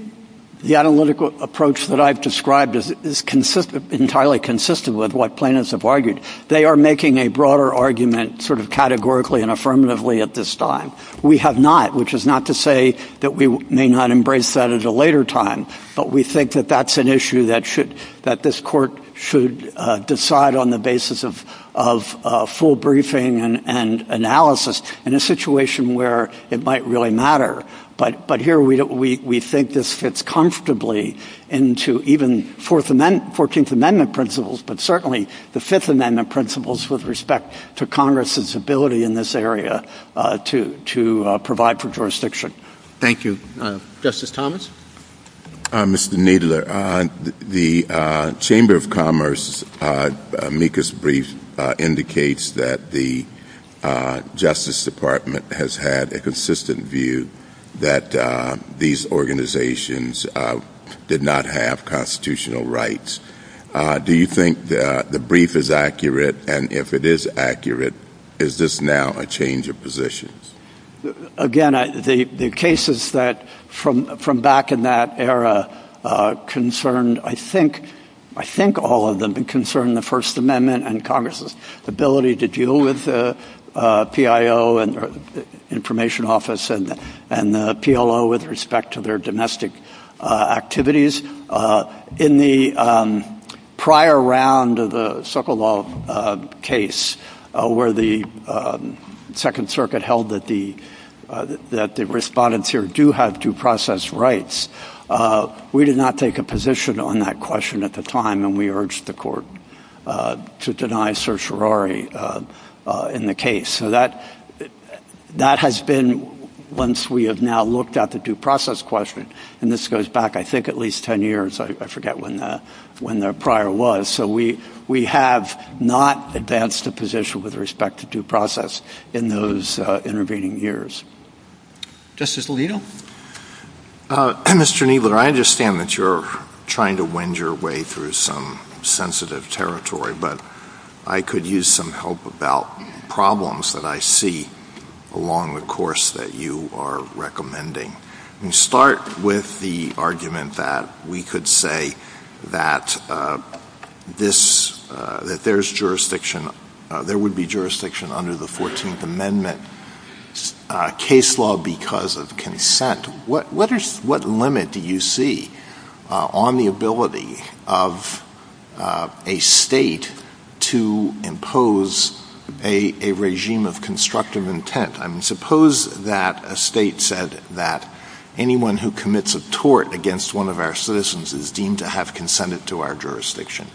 the analytical approach that I've described is consistent, entirely consistent with what plaintiffs have argued. They are making a broader argument sort of categorically and affirmatively at this time. We have not, which is not to say that we may not embrace that at a later time. But we think that that's an issue that should that this court should decide on the basis of full briefing and analysis in a situation where it might really matter. But but here we think this fits comfortably into even Fourth Amendment, 14th Amendment principles, but certainly the Fifth Amendment principles with respect to Congress's ability in this area to to provide for jurisdiction. Thank you, Justice Thomas. Mr. Kneedler. The Chamber of Commerce, Mika's brief indicates that the Justice Department has had a consistent view that these organizations did not have constitutional rights. Do you think the brief is accurate? And if it is accurate, is this now a change of position? Again, the cases that from from back in that era concerned, I think, I think all of them concern the First Amendment and Congress's ability to deal with the PIO and the Information Office and and the PLO with respect to their domestic activities. In the prior round of the Sokolov case where the Second Circuit held that the that the respondents here do have due process rights, we did not take a position on that question at the time and we urged the court to deny certiorari in the case so that that has been. Once we have now looked at the due process question, and this goes back, I think, at least 10 years. I forget when that when the prior was. So we we have not advanced the position with respect to due process in those intervening years. Justice Leal. Mr. Kneedler, I understand that you're trying to wend your way through some sensitive territory, but I could use some help about problems that I see along the course that you are recommending. And start with the argument that we could say that this that there's jurisdiction, there would be jurisdiction under the 14th Amendment case law because of consent. What limit do you see on the ability of a state to impose a regime of constructive intent? I mean, suppose that a state said that anyone who commits a tort against one of our citizens is deemed to have consented to our jurisdiction,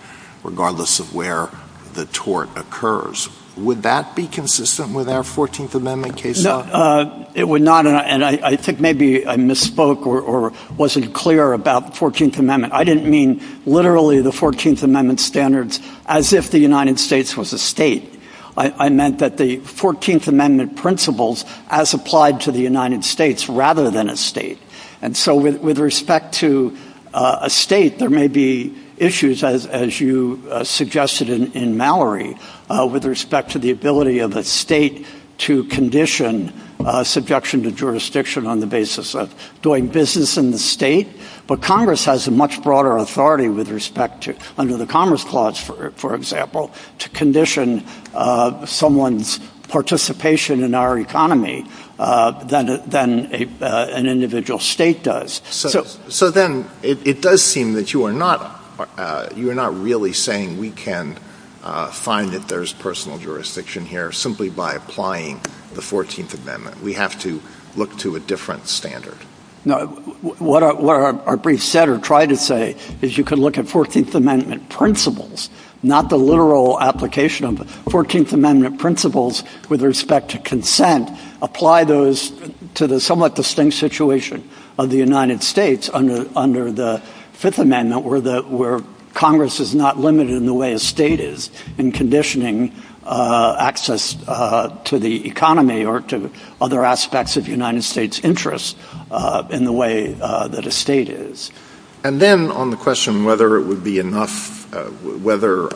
regardless of where the tort occurs. Would that be consistent with our 14th Amendment case? It would not. And I think maybe I misspoke or wasn't clear about 14th Amendment. I didn't mean literally the 14th Amendment standards as if the United States was a state. I meant that the 14th Amendment principles as applied to the United States rather than a state. And so with respect to a state, there may be issues, as you suggested in Mallory, with respect to the ability of a state to condition subjection to jurisdiction on the basis of doing business in the state. But Congress has a much broader authority with respect to under the Commerce Clause, for example, to condition someone's participation in our economy than an individual state does. So then it does seem that you are not really saying we can find that there's personal jurisdiction here simply by applying the 14th Amendment. We have to look to a different standard. No, what our brief said or tried to say is you can look at 14th Amendment principles, not the literal application of the 14th Amendment principles with respect to consent. Apply those to the somewhat distinct situation of the United States under the Fifth Amendment where Congress is not limited in the way a state is in conditioning access to the economy or to other aspects of the United States' interest in the way that a state is. And then on the question whether it would be enough, whether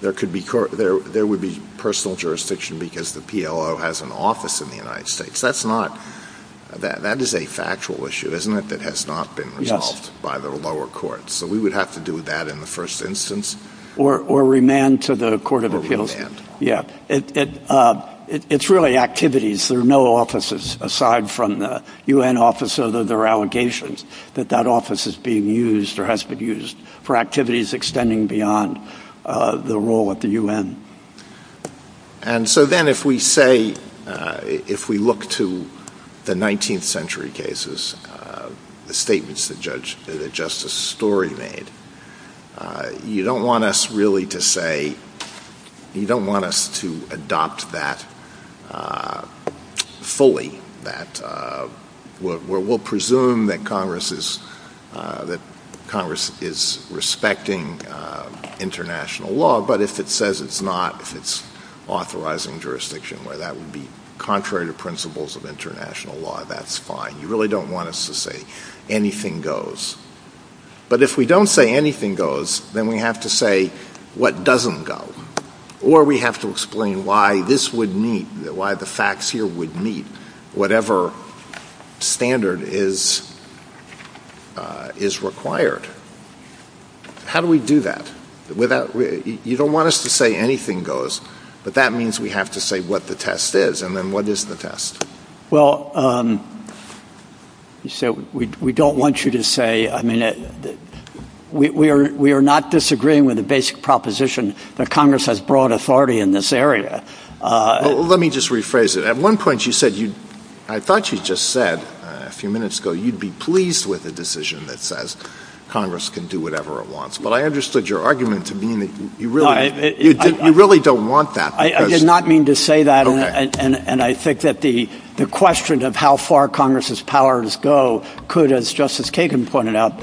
there would be personal jurisdiction because the PLO has an office in the United States, that is a factual issue, isn't it, that has not been resolved by the lower courts. So we would have to do that in the first instance. Or remand to the Court of Appeals. Yeah, it's really activities. There are no offices aside from the U.N. office, although there are allegations that that office is being used or has been used for activities extending beyond the role at the U.N. And so then if we say, if we look to the 19th century cases, the statements that Justice Story made, you don't want us really to say, you don't want us to adopt that fully. We'll presume that Congress is respecting international law, but if it says it's not, if it's authorizing jurisdiction where that would be contrary to principles of international law, that's fine. You really don't want us to say anything goes. But if we don't say anything goes, then we have to say what doesn't go. Or we have to explain why this would meet, why the facts here would meet whatever standard is required. How do we do that? You don't want us to say anything goes, but that means we have to say what the test is, and then what is the test? Well, we don't want you to say, I mean, we are not disagreeing with the basic proposition that Congress has broad authority in this area. Well, let me just rephrase it. At one point you said, I thought you just said a few minutes ago you'd be pleased with a decision that says Congress can do whatever it wants. But I understood your argument to mean that you really don't want that. I did not mean to say that, and I think that the question of how far Congress's powers go could, as Justice Kagan pointed out,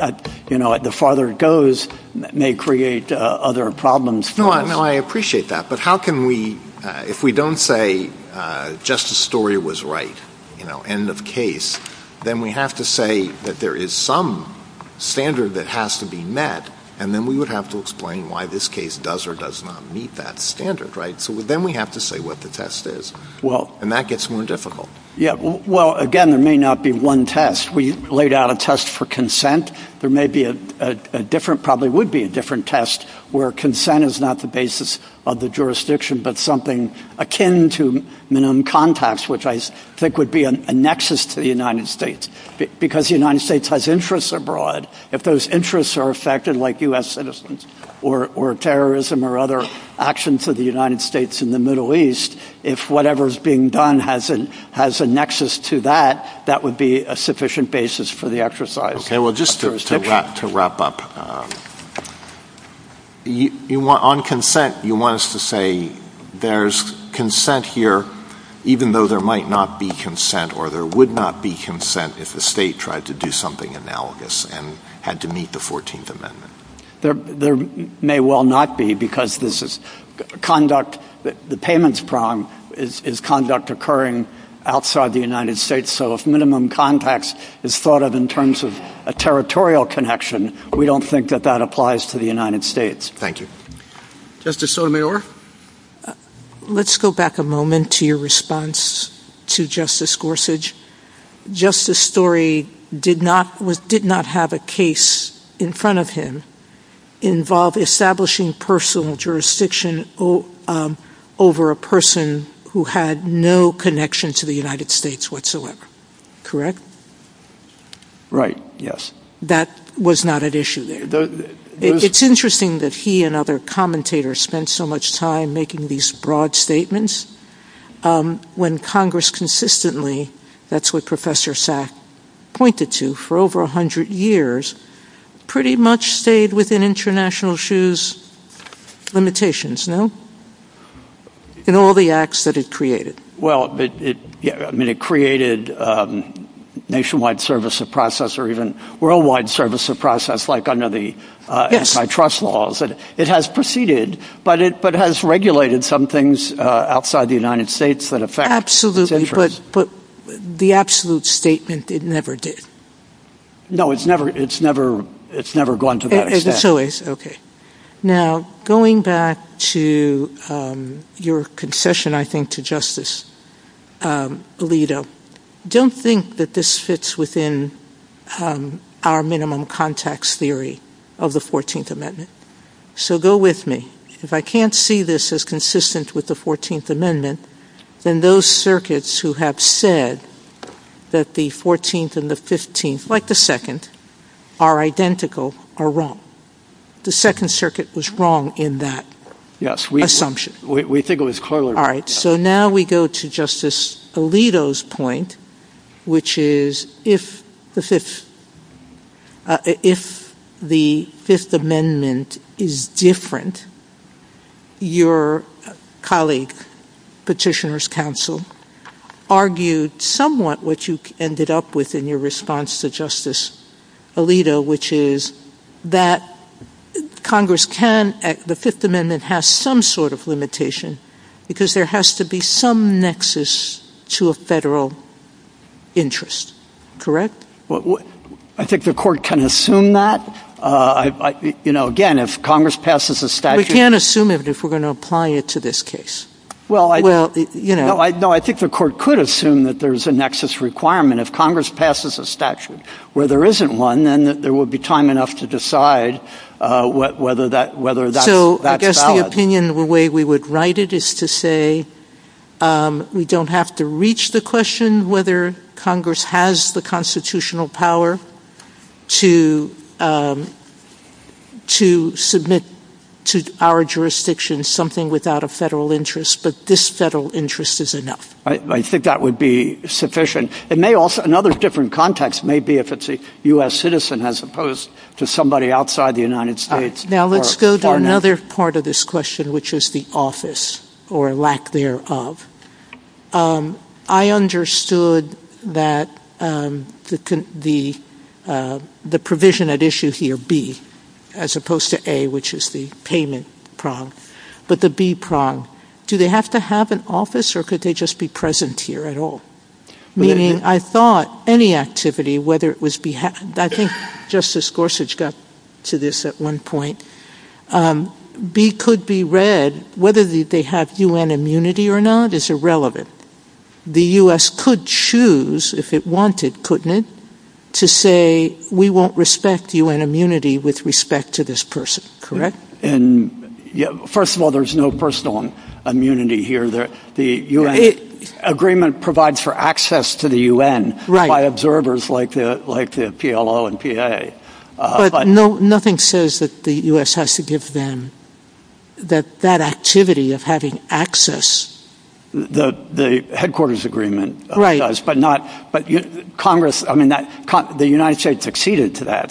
the farther it goes may create other problems. No, I appreciate that. But how can we, if we don't say Justice Story was right, end of case, then we have to say that there is some standard that has to be met, and then we would have to explain why this case does or does not meet that standard. So then we have to say what the test is, and that gets more difficult. Well, again, there may not be one test. We laid out a test for consent. There may be a different, probably would be a different test, where consent is not the basis of the jurisdiction, but something akin to minimum contacts, which I think would be a nexus to the United States, because the United States has interests abroad. If those interests are affected, like U.S. citizens or terrorism or other action to the United States in the Middle East, if whatever is being done has a nexus to that, that would be a sufficient basis for the exercise of jurisdiction. Okay, well, just to wrap up, on consent, you want us to say there's consent here, even though there might not be consent or there would not be consent if the state tried to do something analogous and had to meet the 14th Amendment? There may well not be, because this is conduct, the payments prong is conduct occurring outside the United States, so if minimum contacts is thought of in terms of a territorial connection, we don't think that that applies to the United States. Thank you. Justice Sotomayor? Let's go back a moment to your response to Justice Gorsuch. Justice Story did not have a case in front of him involve establishing personal jurisdiction over a person who had no connection to the United States whatsoever. Correct? Right, yes. That was not an issue there. It's interesting that he and other commentators spent so much time making these broad statements, when Congress consistently, that's what Professor Sack pointed to, for over 100 years, pretty much stayed within International Shoe's limitations, no? In all the acts that it created. Well, it created nationwide service of process or even worldwide service of process, like under the antitrust laws. It has proceeded, but it has regulated some things outside the United States that affect its interests. Absolutely, but the absolute statement, it never did. No, it's never gone to that extent. Now, going back to your concession, I think, to Justice Alito, don't think that this fits within our minimum contacts theory of the 14th Amendment. So go with me. If I can't see this as consistent with the 14th Amendment, then those circuits who have said that the 14th and the 15th, like the 2nd, are identical, are wrong. The 2nd Circuit was wrong in that assumption. Yes, we think it was clearly wrong. All right, so now we go to Justice Alito's point, which is, if the Fifth Amendment is different, your colleague, Petitioner's Counsel, argued somewhat what you ended up with in your response to Justice Alito, which is that the Fifth Amendment has some sort of limitation, because there has to be some nexus to a federal interest. Correct? I think the Court can assume that. Again, if Congress passes a statute... We can't assume it if we're going to apply it to this case. No, I think the Court could assume that there's a nexus requirement. If Congress passes a statute where there isn't one, then there would be time enough to decide whether that's valid. So I guess the opinion, the way we would write it, is to say, we don't have to reach the question whether Congress has the constitutional power to submit to our jurisdiction something without a federal interest, but this federal interest is enough. I think that would be sufficient. Another different context may be if it's a U.S. citizen, as opposed to somebody outside the United States. Now let's go to another part of this question, which is the office, or lack thereof. I understood that the provision at issue here, B, as opposed to A, which is the payment prong, but the B prong, do they have to have an office, or could they just be present here at all? Meaning, I thought any activity, whether it was behalf... I think Justice Gorsuch got to this at one point. B could be read, whether they have U.N. immunity or not is irrelevant. The U.S. could choose, if it wanted, couldn't it, to say, we won't respect U.N. immunity with respect to this person, correct? First of all, there's no personal immunity here. The U.N. agreement provides for access to the U.N. by observers like the PLO and PA. But nothing says that the U.S. has to give them that activity of having access. The headquarters agreement does, but the United States acceded to that.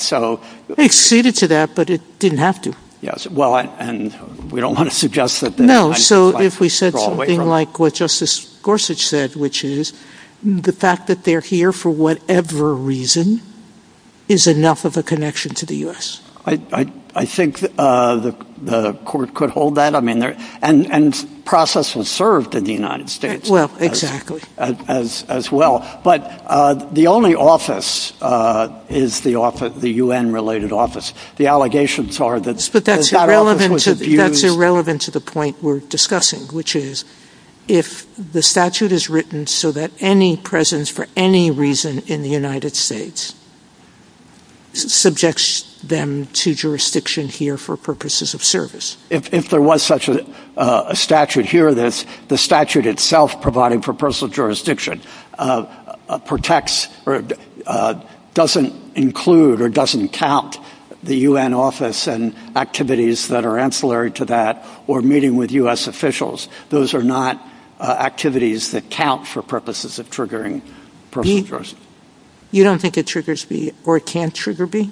They acceded to that, but it didn't have to. Yes, well, and we don't want to suggest that... No, so if we said something like what Justice Gorsuch said, which is the fact that they're here for whatever reason is enough of a connection to the U.S. I think the court could hold that, and processes served in the United States as well. But the only office is the U.N.-related office. The allegations are that that office was abused... But that's irrelevant to the point we're discussing, which is if the statute is written so that any presence for any reason in the United States subjects them to jurisdiction here for purposes of service. If there was such a statute here, the statute itself provided for personal jurisdiction protects or doesn't include or doesn't count the U.N. office and activities that are ancillary to that or meeting with U.S. officials. Those are not activities that count for purposes of triggering personal jurisdiction. You don't think it triggers me or can't trigger me?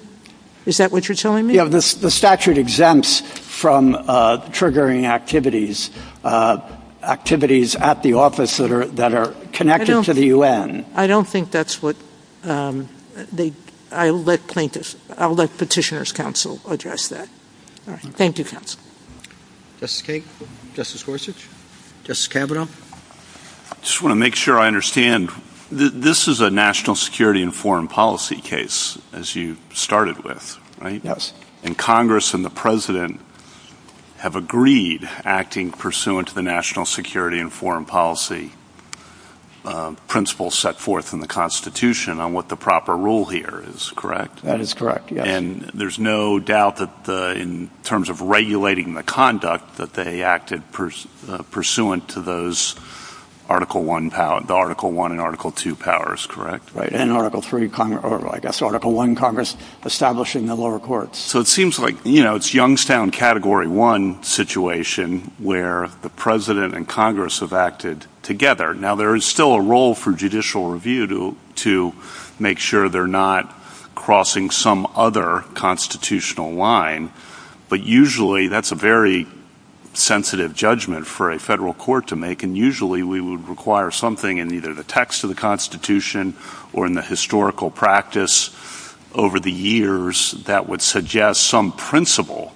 Is that what you're telling me? The statute exempts from triggering activities at the office that are connected to the U.N. I don't think that's what they... I'll let Petitioner's Counsel address that. Thank you, Counsel. Justice Kagan? Justice Gorsuch? Justice Kavanaugh? I just want to make sure I understand. This is a national security and foreign policy case, as you started with, right? Yes. And Congress and the President have agreed, acting pursuant to the national security and foreign policy principles set forth in the Constitution on what the proper rule here is, correct? That is correct, yes. And there's no doubt that in terms of regulating the conduct that they acted pursuant to those Article I and Article II powers, correct? And Article I Congress establishing the lower courts. So it seems like it's Youngstown Category I situation where the President and Congress have acted together. Now, there is still a role for judicial review to make sure they're not crossing some other constitutional line, but usually that's a very sensitive judgment for a federal court to make, and usually we would require something in either the text of the Constitution or in the historical practice over the years that would suggest some principle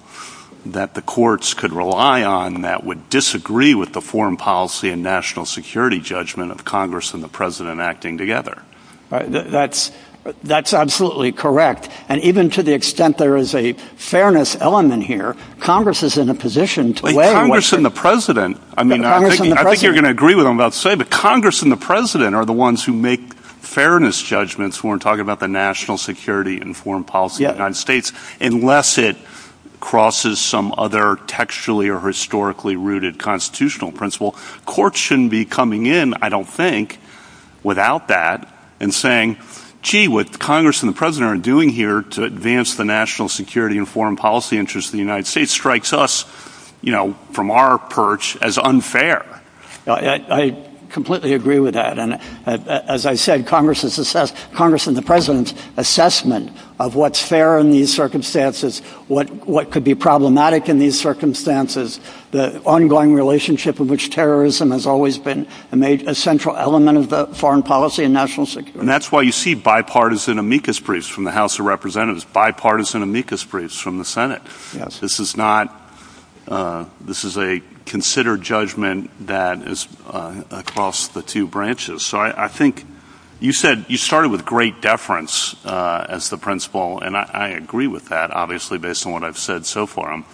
that the courts could rely on that would disagree with the foreign policy and national security judgment of Congress and the President acting together. That's absolutely correct. And even to the extent there is a fairness element here, Congress is in a position to weigh in with it. I think you're going to agree with what I'm about to say, but Congress and the President are the ones who make fairness judgments when we're talking about the national security and foreign policy of the United States, unless it crosses some other textually or historically rooted constitutional principle. Courts shouldn't be coming in, I don't think, without that and saying, gee, what Congress and the President are doing here to advance the national security and foreign policy interests of the United States strikes us from our perch as unfair. I completely agree with that, and as I said, Congress and the President's assessment of what's fair in these circumstances, what could be problematic in these circumstances, the ongoing relationship in which terrorism has always been a central element of the foreign policy and national security. And that's why you see bipartisan amicus briefs from the House of Representatives, bipartisan amicus briefs from the Senate. This is a considered judgment that is across the two branches. So I think you said you started with great deference as the principle, and I agree with that, obviously, based on what I've said so far. I'm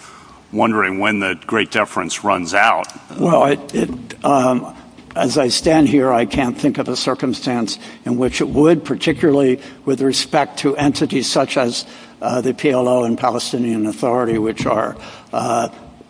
wondering when that great deference runs out. Well, as I stand here, I can't think of a circumstance in which it would, particularly with respect to entities such as the PLO and Palestinian Authority, which are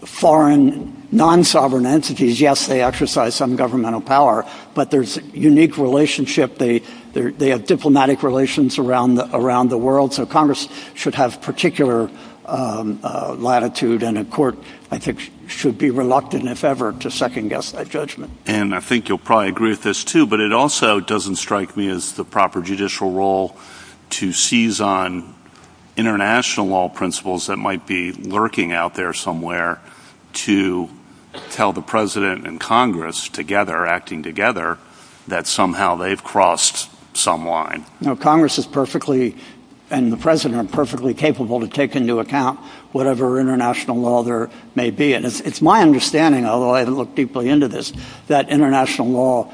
foreign, non-sovereign entities. Yes, they exercise some governmental power, but there's a unique relationship. They have diplomatic relations around the world, so Congress should have particular latitude, and a court, I think, should be reluctant, if ever, to second-guess that judgment. And I think you'll probably agree with this, too, but it also doesn't strike me as the proper judicial role to seize on international law principles that might be lurking out there somewhere to tell the president and Congress together, acting together, that somehow they've crossed some line. Congress is perfectly, and the president, perfectly capable to take into account whatever international law there may be. And it's my understanding, although I haven't looked deeply into this, that international law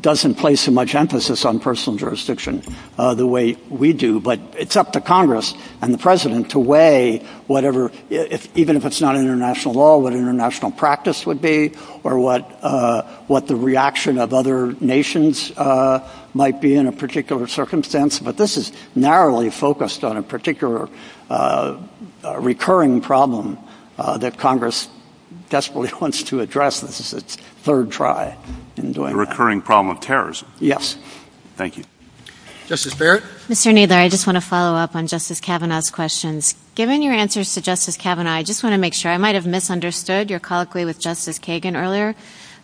doesn't place much emphasis on personal jurisdiction the way we do, but it's up to Congress and the president to weigh whatever, even if it's not international law, what international practice would be or what the reaction of other nations might be in a particular circumstance. But this is narrowly focused on a particular recurring problem that Congress desperately wants to address. This is its third try in doing that. The recurring problem of terrorism. Yes. Thank you. Justice Barrett? Mr. Kneedler, I just want to follow up on Justice Kavanaugh's questions. Given your answers to Justice Kavanaugh, I just want to make sure. I might have misunderstood your colloquy with Justice Kagan earlier,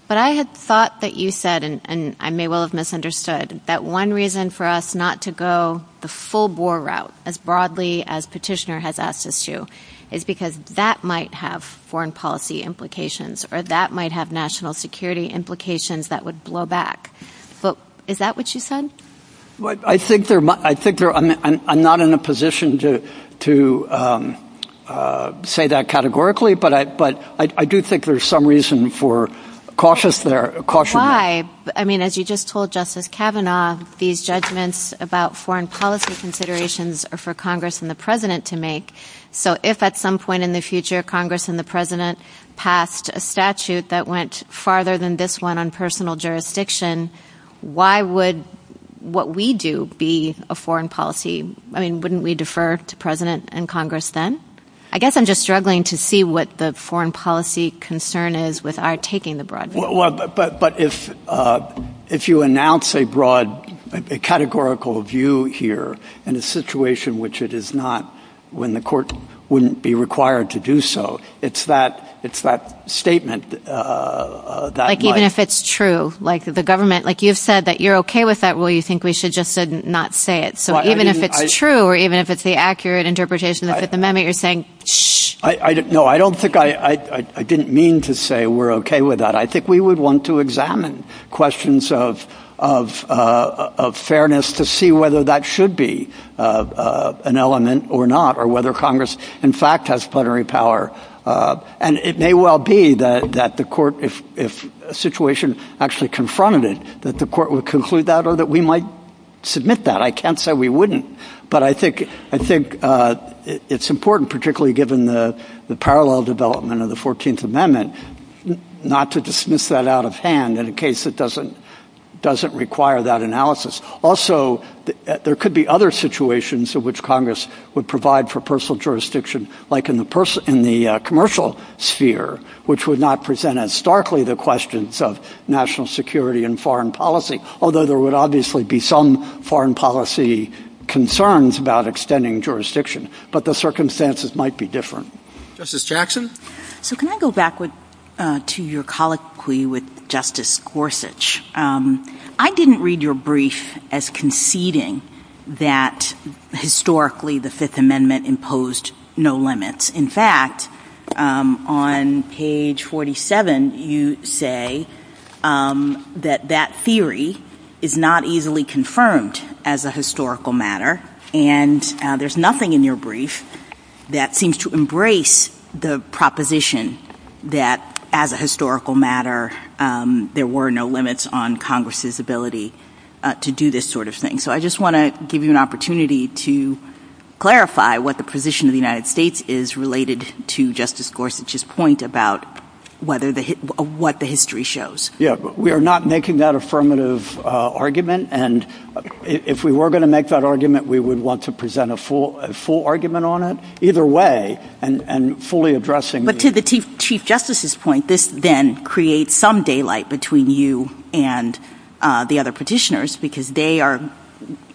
but I had thought that you said, and I may well have misunderstood, that one reason for us not to go the full Boer route, as broadly as Petitioner has asked us to, is because that might have foreign policy implications or that might have national security implications that would blow back. But is that what you said? I think I'm not in a position to say that categorically, but I do think there's some reason for caution. Why? I mean, as you just told Justice Kavanaugh, these judgments about foreign policy considerations are for Congress and the President to make. So if at some point in the future Congress and the President passed a statute that went farther than this one on personal jurisdiction, why would what we do be a foreign policy? I mean, wouldn't we defer to President and Congress then? I guess I'm just struggling to see what the foreign policy concern is with our taking the broad route. But if you announce a broad categorical view here in a situation which it is not, when the court wouldn't be required to do so, it's that statement. Like even if it's true, like the government, like you've said that you're okay with that, well, you think we should just not say it. So even if it's true or even if it's the accurate interpretation of the Fifth Amendment, you're saying, shh. No, I don't think I didn't mean to say we're okay with that. I think we would want to examine questions of fairness to see whether that should be an element or not or whether Congress, in fact, has plenary power. And it may well be that the court, if a situation actually confronted it, that the court would conclude that or that we might submit that. I can't say we wouldn't, but I think it's important, particularly given the parallel development of the 14th Amendment, not to dismiss that out of hand in a case that doesn't require that analysis. Also, there could be other situations in which Congress would provide for personal jurisdiction, like in the commercial sphere, which would not present as starkly the questions of national security and foreign policy. Although there would obviously be some foreign policy concerns about extending jurisdiction, but the circumstances might be different. Justice Jackson. So can I go back to your colloquy with Justice Gorsuch? I didn't read your brief as conceding that historically the Fifth Amendment imposed no limits. In fact, on page 47, you say that that theory is not easily confirmed as a historical matter. And there's nothing in your brief that seems to embrace the proposition that as a historical matter there were no limits on Congress's ability to do this sort of thing. So I just want to give you an opportunity to clarify what the position of the United States is related to Justice Gorsuch's point about what the history shows. Yeah, we are not making that affirmative argument. And if we were going to make that argument, we would want to present a full argument on it either way and fully addressing. But to the Chief Justice's point, this then creates some daylight between you and the other petitioners because they are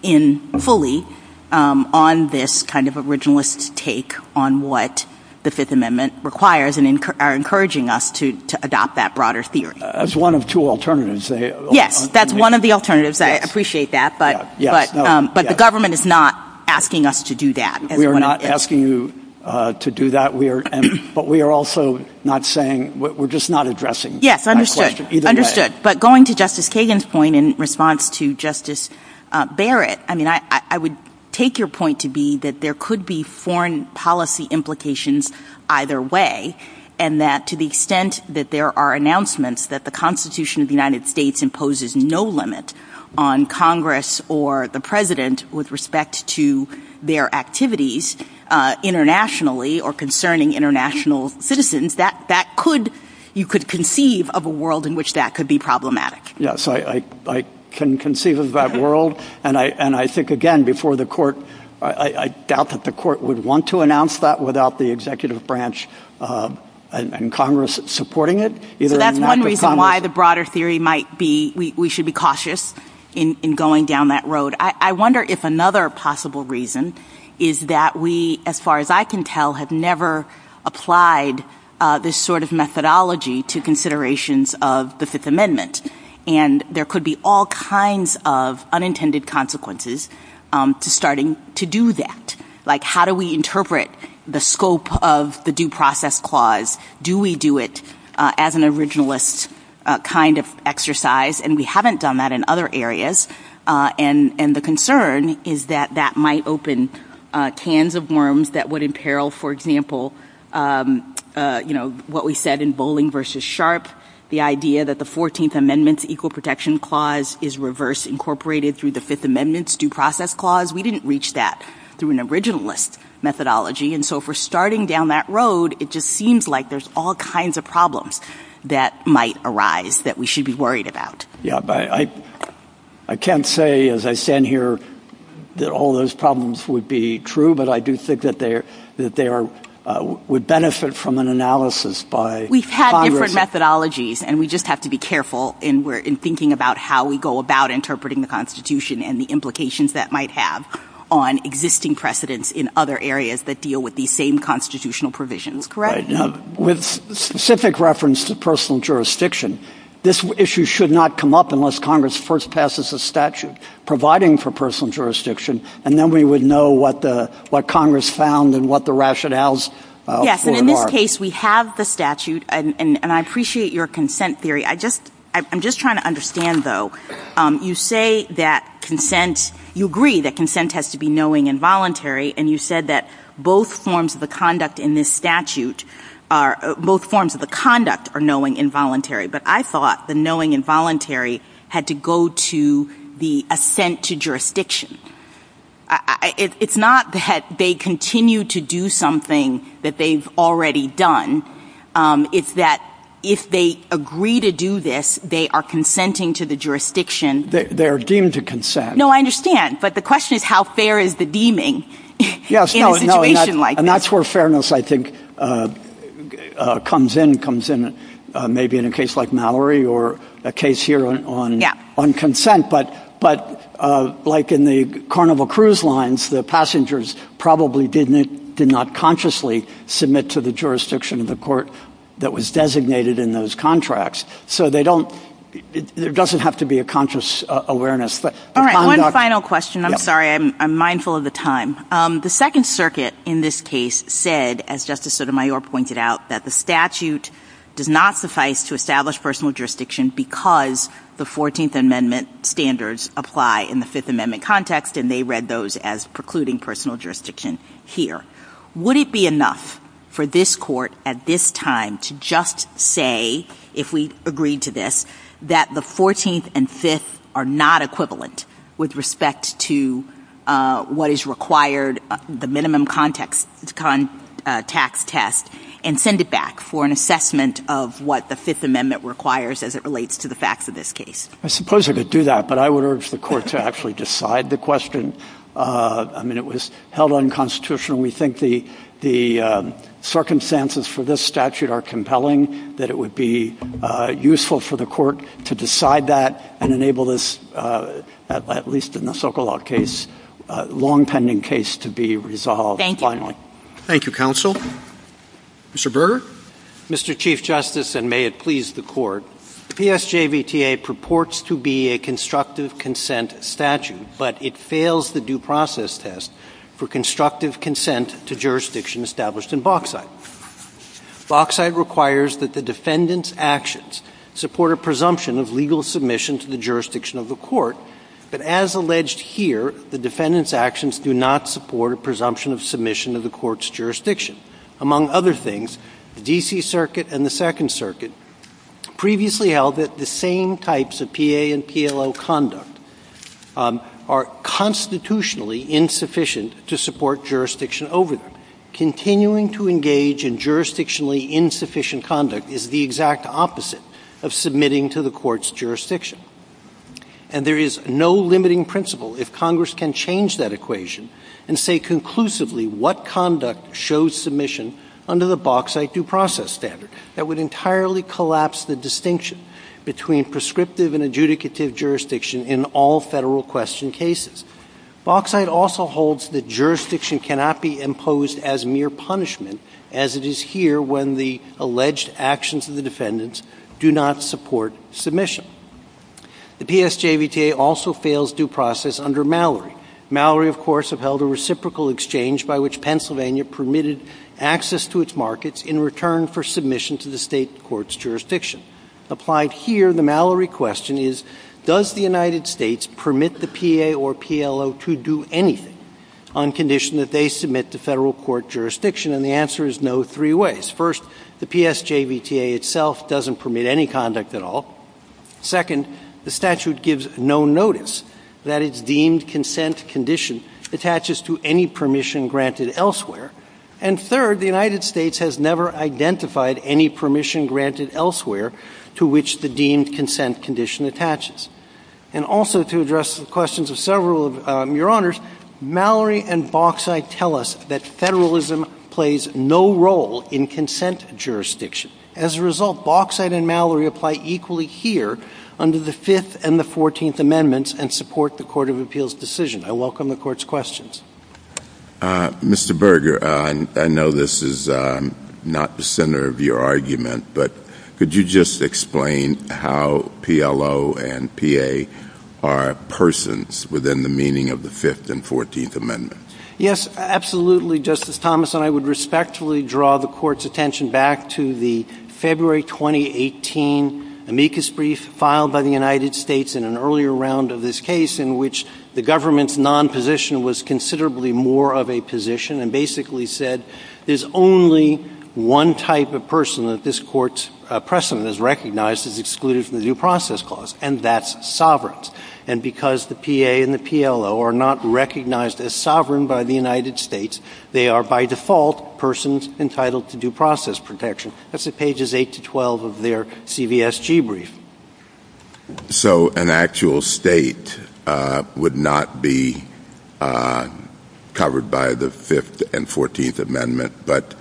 in fully on this kind of originalist take on what the Fifth Amendment requires and are encouraging us to adopt that broader theory. That's one of two alternatives. Yes, that's one of the alternatives. I appreciate that. But the government is not asking us to do that. We are not asking you to do that. We are. But we are also not saying we're just not addressing. Yes, understood. Understood. But going to Justice Kagan's point in response to Justice Barrett, I mean, I would take your point to be that there could be foreign policy implications either way. And that to the extent that there are announcements that the Constitution of the United States imposes no limit on Congress or the president with respect to their activities internationally or concerning international citizens, that that could you could conceive of a world in which that could be problematic. Yes, I can conceive of that world. And I think, again, before the court, I doubt that the court would want to announce that without the executive branch and Congress supporting it. That's one reason why the broader theory might be we should be cautious in going down that road. I wonder if another possible reason is that we, as far as I can tell, have never applied this sort of methodology to considerations of the Fifth Amendment. And there could be all kinds of unintended consequences to starting to do that. Like, how do we interpret the scope of the Due Process Clause? Do we do it as an originalist kind of exercise? And we haven't done that in other areas. And the concern is that that might open cans of worms that would imperil, for example, you know, what we said in Bowling v. Sharpe, the idea that the 14th Amendment's Equal Protection Clause is reverse incorporated through the Fifth Amendment's Due Process Clause. We didn't reach that through an originalist methodology. And so if we're starting down that road, it just seems like there's all kinds of problems that might arise that we should be worried about. I can't say as I stand here that all those problems would be true, but I do think that they would benefit from an analysis by Congress. And we just have to be careful in thinking about how we go about interpreting the Constitution and the implications that might have on existing precedents in other areas that deal with these same constitutional provisions. Correct? With specific reference to personal jurisdiction, this issue should not come up unless Congress first passes a statute providing for personal jurisdiction, and then we would know what Congress found and what the rationales for it are. In any case, we have the statute, and I appreciate your consent theory. I'm just trying to understand, though. You say that consent, you agree that consent has to be knowing and voluntary, and you said that both forms of the conduct in this statute are, both forms of the conduct are knowing and voluntary. But I thought the knowing and voluntary had to go to the assent to jurisdiction. It's not that they continue to do something that they've already done. It's that if they agree to do this, they are consenting to the jurisdiction. They're deemed to consent. No, I understand. But the question is, how fair is the deeming in a situation like this? And that's where fairness, I think, comes in. It comes in maybe in a case like Mallory or a case here on consent. But like in the Carnival Cruise lines, the passengers probably did not consciously submit to the jurisdiction of the court that was designated in those contracts. So there doesn't have to be a conscious awareness. All right. One final question. I'm sorry. I'm mindful of the time. The Second Circuit in this case said, as Justice Sotomayor pointed out, that the statute does not suffice to establish personal jurisdiction because the 14th Amendment standards apply in the Fifth Amendment context, and they read those as precluding personal jurisdiction here. Would it be enough for this Court at this time to just say, if we agreed to this, that the 14th and Fifth are not equivalent with respect to what is required, the minimum context tax test, and send it back for an assessment of what the Fifth Amendment requires as it relates to the facts of this case? I suppose I could do that, but I would urge the Court to actually decide the question. I mean, it was held unconstitutional. We think the circumstances for this statute are compelling, that it would be useful for the Court to decide that and enable this, at least in the Sokolov case, long-tending case to be resolved finally. Thank you, Counsel. Mr. Berger? Mr. Chief Justice, and may it please the Court, PSJVTA purports to be a constructive consent statute, but it fails the due process test for constructive consent to jurisdiction established in Bauxite. Bauxite requires that the defendant's actions support a presumption of legal submission to the jurisdiction of the Court, but as alleged here, the defendant's actions do not support a presumption of submission to the Court's jurisdiction. Among other things, the D.C. Circuit and the Second Circuit previously held that the same types of P.A. and P.L.O. conduct are constitutionally insufficient to support jurisdiction over them. Continuing to engage in jurisdictionally insufficient conduct is the exact opposite of submitting to the Court's jurisdiction. And there is no limiting principle if Congress can change that equation and say conclusively what conduct shows submission under the Bauxite due process standard that would entirely collapse the distinction between prescriptive and adjudicative jurisdiction in all Federal question cases. Bauxite also holds that jurisdiction cannot be imposed as mere punishment as it is here when the alleged actions of the defendants do not support submission. The PSJVTA also fails due process under Mallory. Mallory, of course, have held a reciprocal exchange by which Pennsylvania permitted access to its markets in return for submission to the State Court's jurisdiction. Applied here, the Mallory question is, does the United States permit the P.A. or P.L.O. to do anything on condition that they submit to Federal court jurisdiction? And the answer is no three ways. First, the PSJVTA itself doesn't permit any conduct at all. Second, the statute gives no notice that its deemed consent condition attaches to any permission granted elsewhere. And third, the United States has never identified any permission granted elsewhere to which the deemed consent condition attaches. And also to address the questions of several of your honors, Mallory and Bauxite tell us that Federalism plays no role in consent jurisdiction. As a result, Bauxite and Mallory apply equally here under the Fifth and the Fourteenth Amendments and support the Court of Appeals decision. I welcome the Court's questions. Mr. Berger, I know this is not the center of your argument, but could you just explain how P.L.O. and P.A. are persons within the meaning of the Fifth and Fourteenth Amendments? Yes, absolutely, Justice Thomas, and I would respectfully draw the Court's attention back to the February 2018 amicus brief filed by the United States in an earlier round of this case in which the government's non-position was considerably more of a position and basically said there's only one type of person that this Court's precedent has recognized as excluded from the due process clause, and that's sovereigns. And because the P.A. and the P.L.O. are not recognized as sovereign by the United States, they are by default persons entitled to due process protection. That's at pages 8 to 12 of their CVSG brief. So an actual state would not be covered by the Fifth and Fourteenth Amendments, but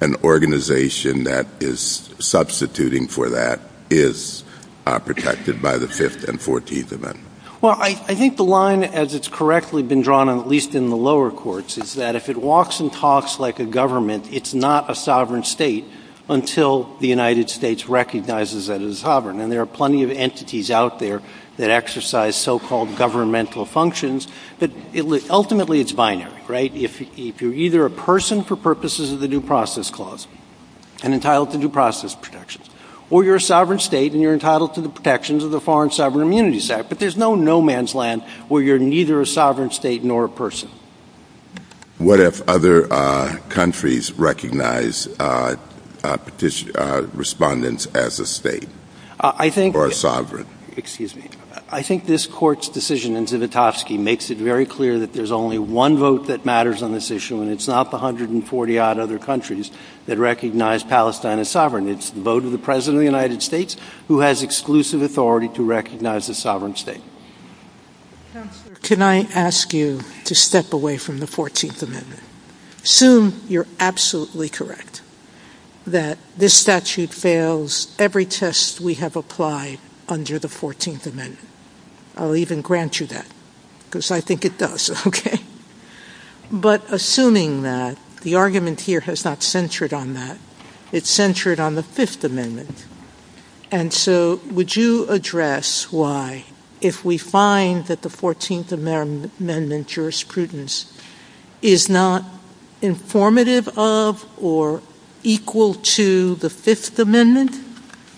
an organization that is substituting for that is protected by the Fifth and Fourteenth Amendments? Well, I think the line, as it's correctly been drawn, at least in the lower courts, is that if it walks and talks like a government, it's not a sovereign state until the United States recognizes it as sovereign. And there are plenty of entities out there that exercise so-called governmental functions, but ultimately it's binary, right? If you're either a person for purposes of the due process clause and entitled to due process protections, or you're a sovereign state and you're entitled to the protections of the Foreign Sovereign Immunity Act, but there's no no-man's land where you're neither a sovereign state nor a person. What if other countries recognize respondents as a state or a sovereign? I think this court's decision in Zivotofsky makes it very clear that there's only one vote that matters on this issue, and it's not the 140-odd other countries that recognize Palestine as sovereign. It's the vote of the President of the United States, who has exclusive authority to recognize it as a sovereign state. Can I ask you to step away from the 14th Amendment? Assume you're absolutely correct that this statute fails every test we have applied under the 14th Amendment. I'll even grant you that, because I think it does, okay? But assuming that, the argument here has not centered on that. It's centered on the Fifth Amendment. And so would you address why, if we find that the 14th Amendment jurisprudence is not informative of or equal to the Fifth Amendment,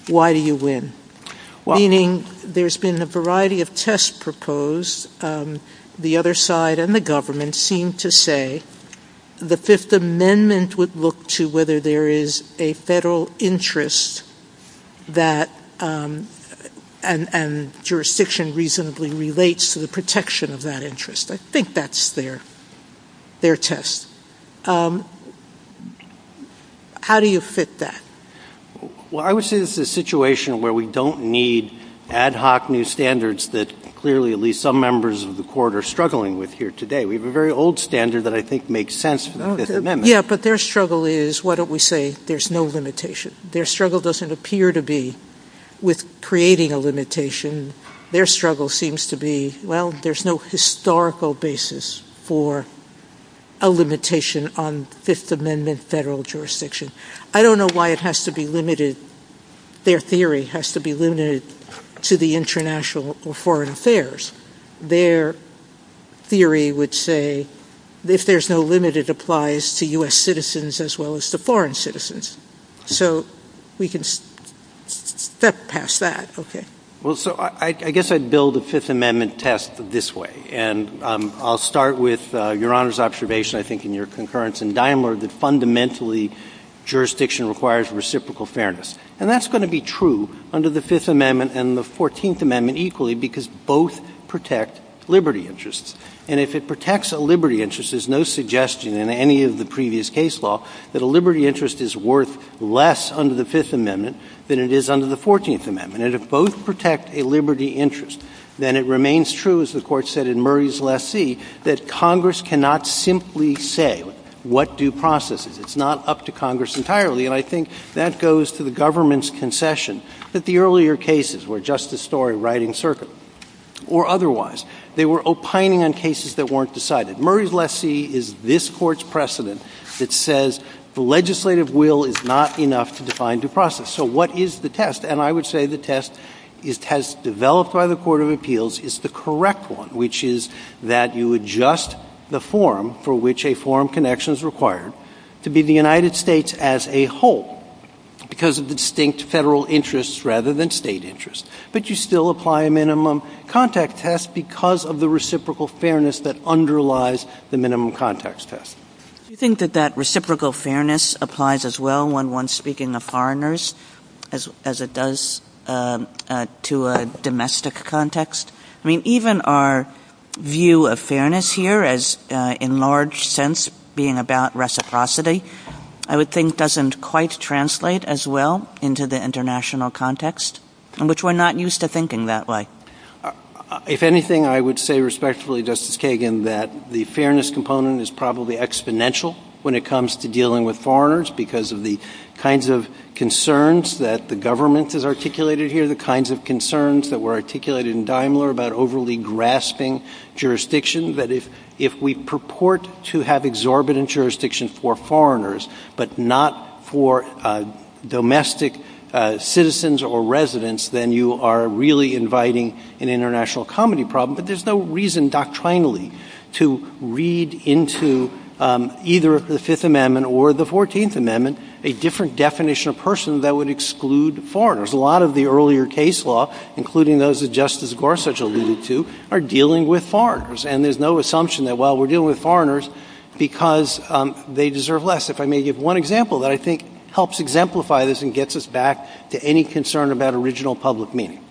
why do you win? Meaning, there's been a variety of tests proposed. The other side and the government seem to say the Fifth Amendment would look to whether there is a federal interest, and jurisdiction reasonably relates to the protection of that interest. I think that's their test. How do you fit that? Well, I would say this is a situation where we don't need ad hoc new standards that clearly at least some members of the court are struggling with here today. We have a very old standard that I think makes sense. Yeah, but their struggle is, why don't we say, there's no limitation. Their struggle doesn't appear to be with creating a limitation. Their struggle seems to be, well, there's no historical basis for a limitation on Fifth Amendment federal jurisdiction. I don't know why it has to be limited. Their theory has to be limited to the international or foreign affairs. Their theory would say, if there's no limit, it applies to U.S. citizens as well as to foreign citizens. So we can step past that. Okay. Well, so I guess I'd build a Fifth Amendment test this way. And I'll start with Your Honor's observation, I think, in your concurrence in Daimler, that fundamentally jurisdiction requires reciprocal fairness. And that's going to be true under the Fifth Amendment and the Fourteenth Amendment equally because both protect liberty interests. And if it protects a liberty interest, there's no suggestion in any of the previous case law that a liberty interest is worth less under the Fifth Amendment than it is under the Fourteenth Amendment. And if both protect a liberty interest, then it remains true, as the Court said in Murray's last seat, that Congress cannot simply say what due process is. It's not up to Congress entirely. And I think that goes to the government's concession that the earlier cases were just a story riding circular. Or otherwise, they were opining on cases that weren't decided. Murray's last seat is this Court's precedent that says the legislative will is not enough to define due process. So what is the test? And I would say the test has developed by the Court of Appeals is the correct one, which is that you adjust the forum for which a forum connection is required to be the United States as a whole because of the distinct Federal interests rather than State interests. But you still apply a minimum contact test because of the reciprocal fairness that underlies the minimum context test. Do you think that that reciprocal fairness applies as well when one's speaking of foreigners as it does to a domestic context? I mean, even our view of fairness here as in large sense being about reciprocity, I would think doesn't quite translate as well into the international context, which we're not used to thinking that way. If anything, I would say respectfully, Justice Kagan, that the fairness component is probably exponential when it comes to dealing with foreigners because of the kinds of concerns that the government has articulated here, the kinds of concerns that were articulated in Daimler about overly grasping jurisdictions. I assume that if we purport to have exorbitant jurisdiction for foreigners but not for domestic citizens or residents, then you are really inviting an international comedy problem. But there's no reason doctrinally to read into either the Fifth Amendment or the Fourteenth Amendment a different definition of persons that would exclude foreigners. A lot of the earlier case law, including those that Justice Gorsuch alluded to, are dealing with foreigners. And there's no assumption that while we're dealing with foreigners because they deserve less. If I may give one example that I think helps exemplify this and gets us back to any concern about original public meaning.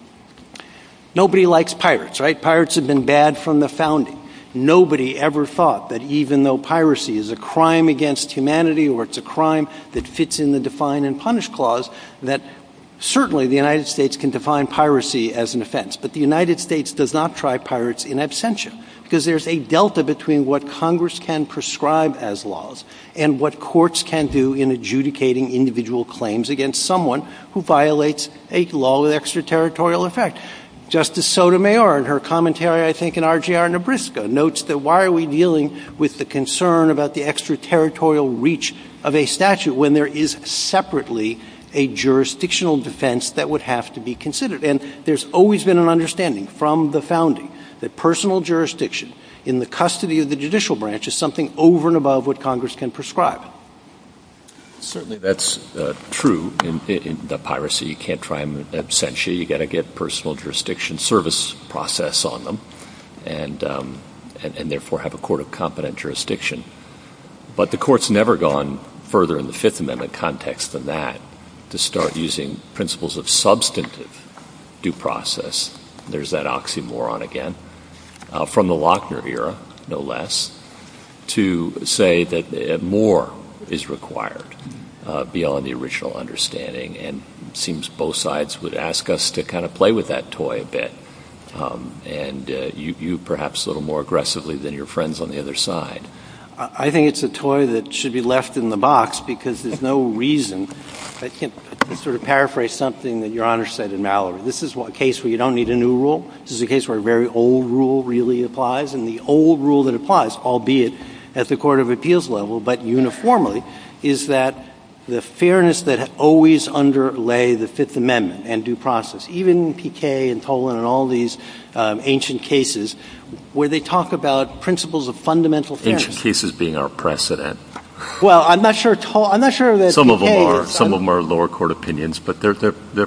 Nobody likes pirates, right? Pirates have been bad from the founding. Nobody ever thought that even though piracy is a crime against humanity or it's a crime that fits in the Define and Punish Clause, that certainly the United States can define piracy as an offense. But the United States does not try pirates in absentia because there's a delta between what Congress can prescribe as laws and what courts can do in adjudicating individual claims against someone who violates a law of extraterritorial effect. Justice Sotomayor, in her commentary I think in RGR Nebraska, notes that why are we dealing with the concern about the extraterritorial reach of a statute when there is separately a jurisdictional defense that would have to be considered? And there's always been an understanding from the founding that personal jurisdiction in the custody of the judicial branch is something over and above what Congress can prescribe. Certainly that's true in the piracy. You can't try them in absentia. You've got to get personal jurisdiction service process on them and therefore have a court of competent jurisdiction. But the court's never gone further in the Fifth Amendment context than that to start using principles of substantive due process. There's that oxymoron again from the Lochner era, no less, to say that more is required beyond the original understanding. And it seems both sides would ask us to kind of play with that toy a bit. And you perhaps a little more aggressively than your friends on the other side. I think it's a toy that should be left in the box because there's no reason. I can sort of paraphrase something that Your Honor said in Mallory. This is a case where you don't need a new rule. This is a case where a very old rule really applies. And the old rule that applies, albeit at the court of appeals level but uniformly, is that the fairness that always underlay the Fifth Amendment and due process, even in P.K. and Tolan and all these ancient cases where they talk about principles of fundamental fairness. Ancient cases being our precedent. Well, I'm not sure that P.K. Some of them are lower court opinions, but they're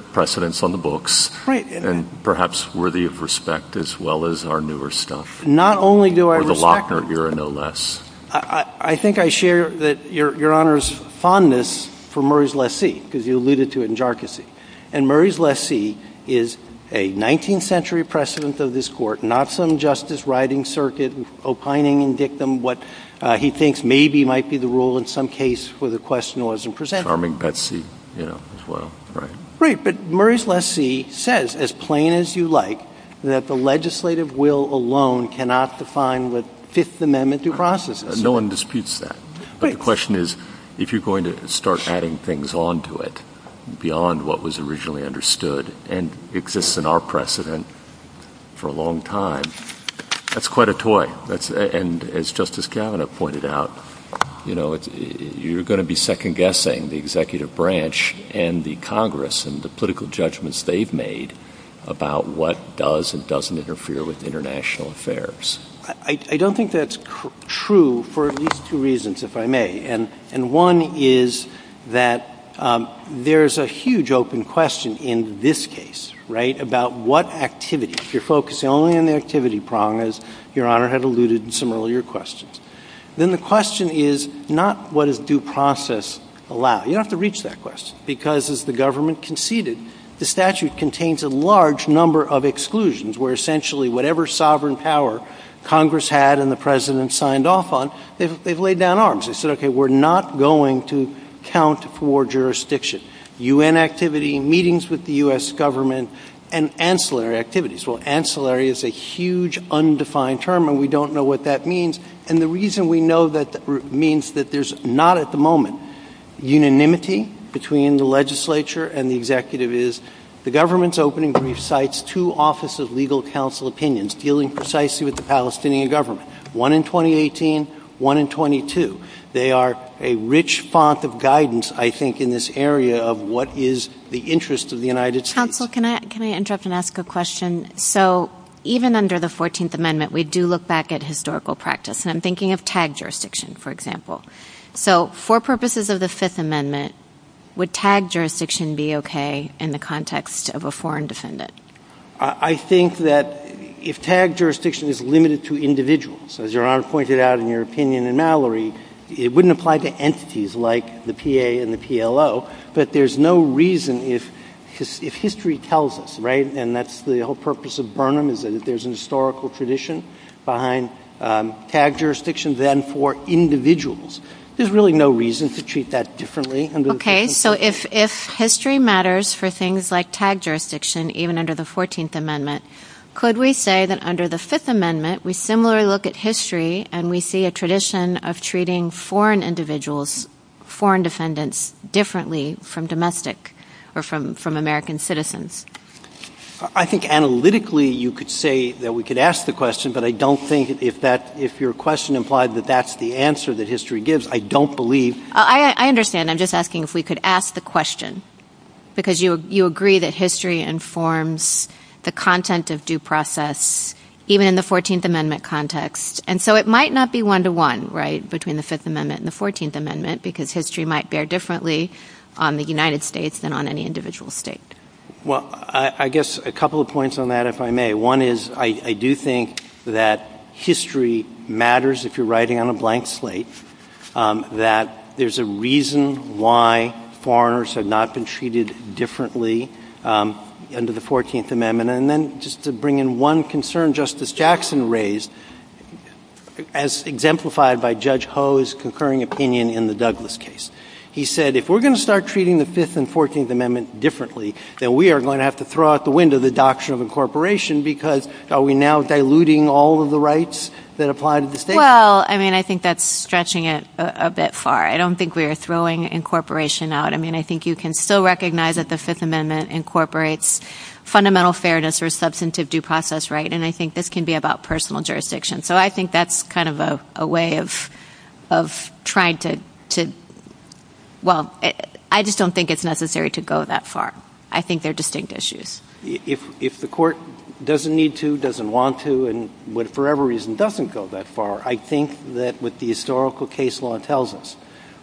precedents on the books. Right. And perhaps worthy of respect as well as our newer stuff. Not only do I respect- For the Lochner era, no less. I think I share that Your Honor's fondness for Murray's Less See because you alluded to it in Jharkhand. And Murray's Less See is a 19th century precedent of this Court, not some justice riding circuit, opining and dictum what he thinks maybe might be the rule in some case for the question that wasn't presented. Charming Betsy, you know, as well. Right, but Murray's Less See says, as plain as you like, that the legislative will alone cannot define what Fifth Amendment due process is. No one disputes that. But the question is, if you're going to start adding things on to it beyond what was originally understood and exists in our precedent for a long time, that's quite a toy. And as Justice Kavanaugh pointed out, you know, you're going to be second-guessing the executive branch and the Congress and the political judgments they've made about what does and doesn't interfere with international affairs. I don't think that's true for at least two reasons, if I may. And one is that there's a huge open question in this case, right, about what activity. If you're focusing only on the activity prong, as Your Honor had alluded in some earlier questions, then the question is not what does due process allow. You don't have to reach that question because, as the government conceded, the statute contains a large number of exclusions where essentially whatever sovereign power Congress had and the President signed off on, they've laid down arms. They said, okay, we're not going to count for jurisdiction. U.N. activity, meetings with the U.S. government, and ancillary activities. Well, ancillary is a huge, undefined term, and we don't know what that means. And the reason we know that means that there's not at the moment unanimity between the legislature and the executive is the government's opening brief cites two offices of legal counsel opinions dealing precisely with the Palestinian government, one in 2018, one in 22. They are a rich font of guidance, I think, in this area of what is the interest of the United States. Counsel, can I interrupt and ask a question? So even under the 14th Amendment, we do look back at historical practice, and I'm thinking of TAG jurisdiction, for example. So for purposes of the Fifth Amendment, would TAG jurisdiction be okay in the context of a foreign defendant? I think that if TAG jurisdiction is limited to individuals, as Your Honor pointed out in your opinion in Mallory, it wouldn't apply to entities like the PA and the PLO, but there's no reason if history tells us, right, and that's the whole purpose of Burnham is that if there's a historical tradition behind TAG jurisdiction, then for individuals there's really no reason to treat that differently. Okay, so if history matters for things like TAG jurisdiction, even under the 14th Amendment, could we say that under the Fifth Amendment we similarly look at history and we see a tradition of treating foreign individuals, foreign defendants, differently from domestic or from American citizens? I think analytically you could say that we could ask the question, but I don't think if your question implied that that's the answer that history gives, I don't believe. I understand. I'm just asking if we could ask the question, because you agree that history informs the content of due process, even in the 14th Amendment context, and so it might not be one-to-one, right, between the Fifth Amendment and the 14th Amendment, because history might bear differently on the United States than on any individual state. Well, I guess a couple of points on that, if I may. One is I do think that history matters if you're writing on a blank slate, that there's a reason why foreigners have not been treated differently under the 14th Amendment, and then just to bring in one concern Justice Jackson raised, as exemplified by Judge Ho's concurring opinion in the Douglas case. He said if we're going to start treating the Fifth and 14th Amendment differently, then we are going to have to throw out the window the doctrine of incorporation, because are we now diluting all of the rights that apply to the state? Well, I mean, I think that's stretching it a bit far. I don't think we're throwing incorporation out. I mean, I think you can still recognize that the Fifth Amendment incorporates fundamental fairness or substantive due process, right, and I think this can be about personal jurisdiction. So I think that's kind of a way of trying to – well, I just don't think it's necessary to go that far. I think they're distinct issues. If the court doesn't need to, doesn't want to, and for whatever reason doesn't go that far, I think that what the historical case law tells us,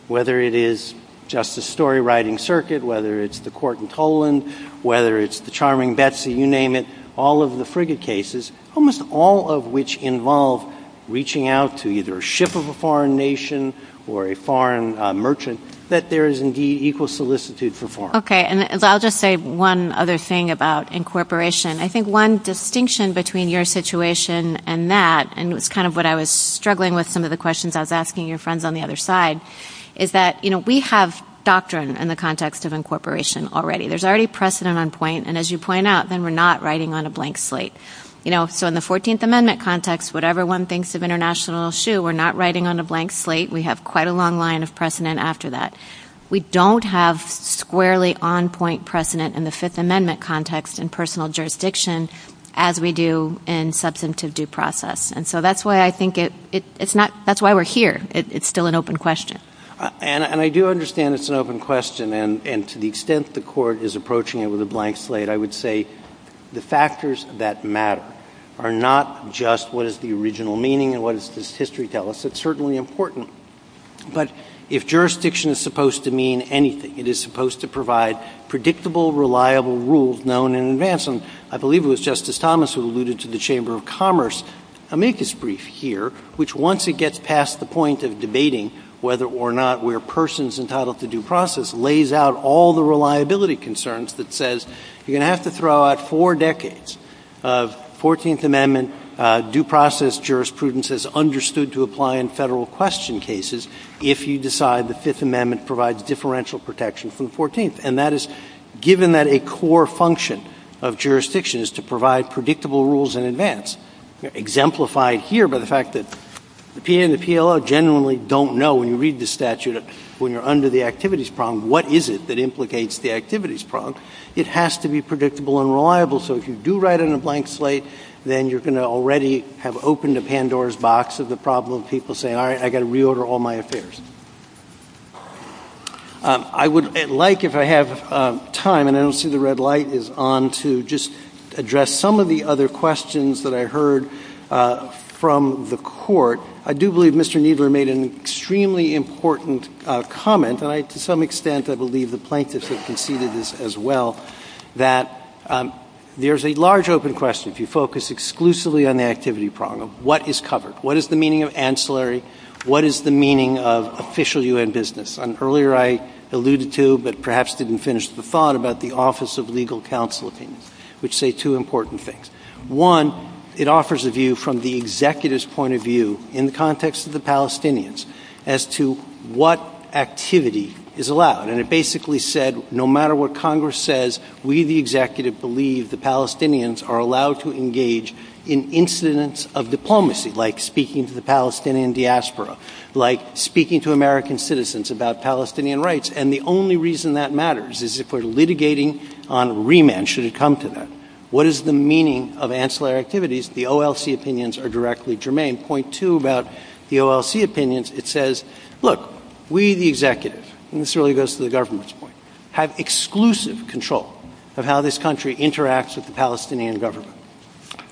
whether it is Justice's story writing circuit, whether it's the court in Poland, whether it's the charming Betsy, you name it, all of the Frigate cases, almost all of which involve reaching out to either a ship of a foreign nation or a foreign merchant, that there is indeed equal solicitude for foreign. Okay, and I'll just say one other thing about incorporation. I think one distinction between your situation and that, and it's kind of what I was struggling with some of the questions I was asking your friends on the other side, is that we have doctrine in the context of incorporation already. There's already precedent on point, and as you point out, then we're not writing on a blank slate. So in the 14th Amendment context, whatever one thinks of international issue, we're not writing on a blank slate. We have quite a long line of precedent after that. We don't have squarely on-point precedent in the Fifth Amendment context in personal jurisdiction as we do in substantive due process, and so that's why I think it's not – that's why we're here. It's still an open question. And I do understand it's an open question, and to the extent the Court is approaching it with a blank slate, I would say the factors that matter are not just what is the original meaning and what does history tell us. It's certainly important. But if jurisdiction is supposed to mean anything, it is supposed to provide predictable, reliable rules known in advance. And I believe it was Justice Thomas who alluded to the Chamber of Commerce amicus brief here, which once it gets past the point of debating whether or not we're persons entitled to due process, lays out all the reliability concerns that says you're going to have to throw out four decades of 14th Amendment due process jurisprudence as understood to apply in Federal question cases if you decide the Fifth Amendment provides differential protection from the 14th. And that is given that a core function of jurisdiction is to provide predictable rules in advance, exemplified here by the fact that the PA and the PLO genuinely don't know when you read the statute when you're under the activities prong, what is it that implicates the activities prong. It has to be predictable and reliable. So if you do write it in a blank slate, then you're going to already have opened a Pandora's box of the problem of people saying, all right, I've got to reorder all my affairs. I would like, if I have time, and I don't see the red light, is on to just address some of the other questions that I heard from the court. I do believe Mr. Kneedler made an extremely important comment, and to some extent I believe the plaintiffs have conceded this as well, that there's a large open question if you focus exclusively on the activity prong of what is covered. What is the meaning of ancillary? What is the meaning of official U.N. business? Earlier I alluded to, but perhaps didn't finish the thought, about the Office of Legal Counsel opinion, which say two important things. One, it offers a view from the executive's point of view in the context of the Palestinians as to what activity is allowed. And it basically said no matter what Congress says, we the executive believe the Palestinians are allowed to engage in incidents of diplomacy, like speaking to the Palestinian diaspora, like speaking to American citizens about Palestinian rights, and the only reason that matters is if we're litigating on remand, should it come to that. What is the meaning of ancillary activities? The OLC opinions are directly germane. Point two about the OLC opinions, it says, look, we the executive, and this really goes to the government's point, have exclusive control of how this country interacts with the Palestinian government.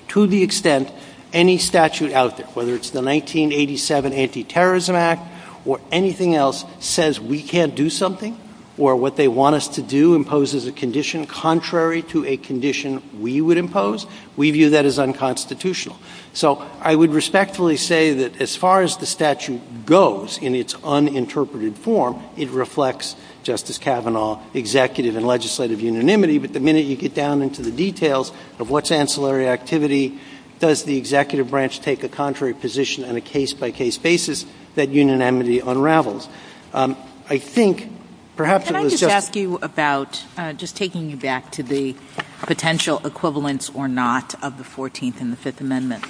To the extent any statute out there, whether it's the 1987 Anti-Terrorism Act or anything else says we can't do something, or what they want us to do imposes a condition contrary to a condition we would impose, we view that as unconstitutional. So I would respectfully say that as far as the statute goes in its uninterpreted form, it reflects Justice Kavanaugh's executive and legislative unanimity, but the minute you get down into the details of what's ancillary activity, does the executive branch take a contrary position on a case-by-case basis, that unanimity unravels. Can I just ask you about, just taking you back to the potential equivalence or not of the 14th and the Fifth Amendment.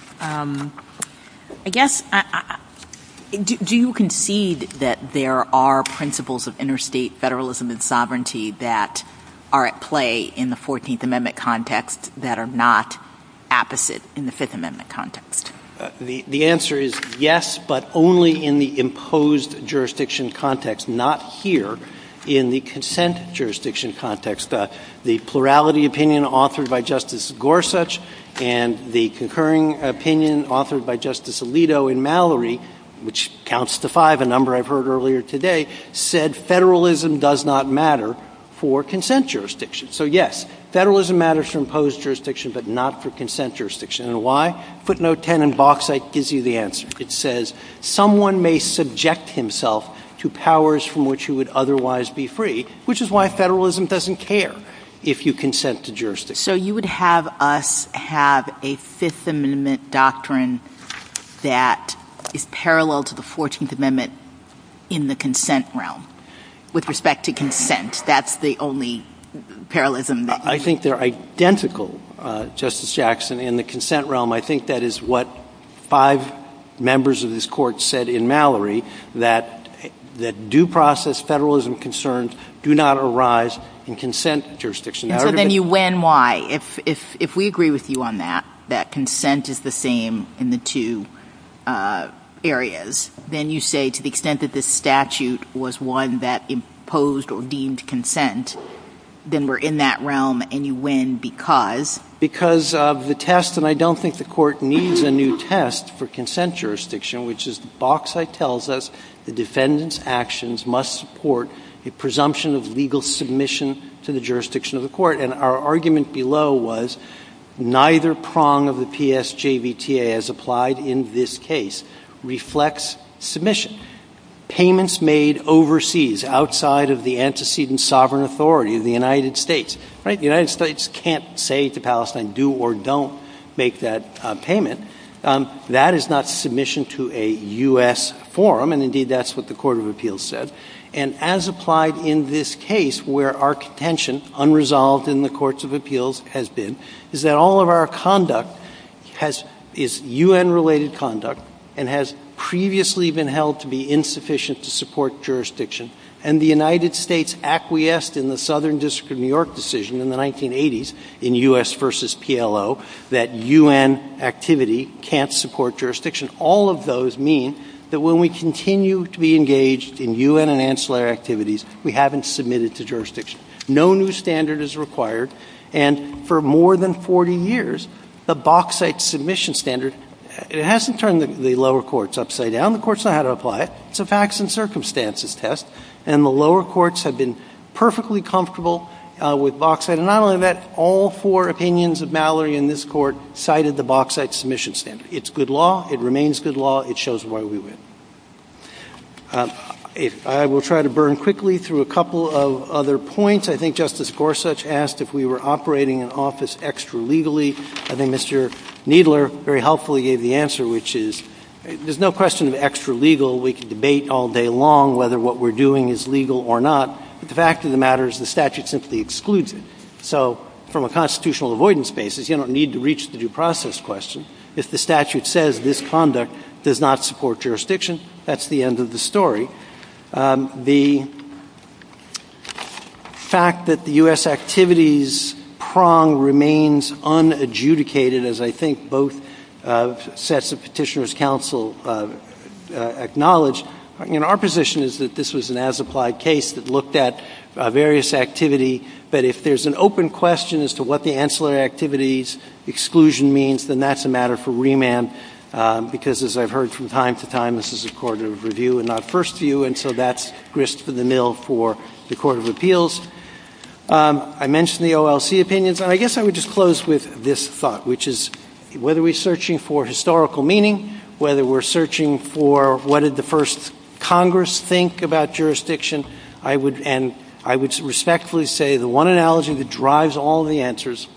Do you concede that there are principles of interstate federalism and sovereignty that are at play in the 14th Amendment context that are not apposite in the Fifth Amendment context? The answer is yes, but only in the imposed jurisdiction context, not here in the consent jurisdiction context. The plurality opinion authored by Justice Gorsuch and the concurring opinion authored by Justice Alito and Mallory, which counts to five, a number I've heard earlier today, said federalism does not matter for consent jurisdiction. So yes, federalism matters for imposed jurisdiction, but not for consent jurisdiction. And why? Put note 10 in Vox, that gives you the answer. It says, someone may subject himself to powers from which he would otherwise be free, which is why federalism doesn't care if you consent to jurisdiction. So you would have us have a Fifth Amendment doctrine that is parallel to the 14th Amendment in the consent realm, with respect to consent. That's the only parallelism. I think they're identical, Justice Jackson, in the consent realm. I think that is what five members of this Court said in Mallory, that due process federalism concerns do not arise in consent jurisdiction. So then you win why, if we agree with you on that, that consent is the same in the two areas, then you say to the extent that this statute was one that imposed or deemed consent, then we're in that realm, and you win because? Because of the test, and I don't think the Court needs a new test for consent jurisdiction, which is Vox that tells us the defendant's actions must support a presumption of legal submission to the jurisdiction of the Court. And our argument below was neither prong of the PSJVTA, as applied in this case, reflects submission. Payments made overseas, outside of the antecedent sovereign authority of the United States. The United States can't say to Palestine, do or don't make that payment. That is not submission to a U.S. forum, and indeed that's what the Court of Appeals said. And as applied in this case, where our contention unresolved in the Courts of Appeals has been, is that all of our conduct is U.N.-related conduct and has previously been held to be insufficient to support jurisdiction, and the United States acquiesced in the Southern District of New York decision in the 1980s, in U.S. versus PLO, that U.N. activity can't support jurisdiction. All of those mean that when we continue to be engaged in U.N. and ancillary activities, we haven't submitted to jurisdiction. No new standard is required. And for more than 40 years, the Voxite submission standard, it hasn't turned the lower courts upside down. The courts know how to apply it. It's a facts and circumstances test. And the lower courts have been perfectly comfortable with Voxite. And not only that, all four opinions of Mallory in this Court cited the Voxite submission standard. It's good law. It remains good law. It shows why we win. I will try to burn quickly through a couple of other points. I think Justice Gorsuch asked if we were operating an office extra-legally. I think Mr. Kneedler very helpfully gave the answer, which is there's no question of extra-legal. We could debate all day long whether what we're doing is legal or not. But the fact of the matter is the statute simply excludes it. So from a constitutional avoidance basis, you don't need to reach the due process question. If the statute says this conduct does not support jurisdiction, that's the end of the story. The fact that the U.S. activities prong remains unadjudicated, as I think both sets of Petitioner's counsel acknowledge, you know, our position is that this was an as-applied case that looked at various activity. But if there's an open question as to what the ancillary activities exclusion means, then that's a matter for remand, because as I've heard from time to time, this is a court of review and not first view. And so that's grist for the mill for the Court of Appeals. I mentioned the OLC opinions. I guess I would just close with this thought, which is whether we're searching for historical meaning, whether we're searching for what did the first Congress think about jurisdiction, and I would respectfully say the one analogy that drives all the answers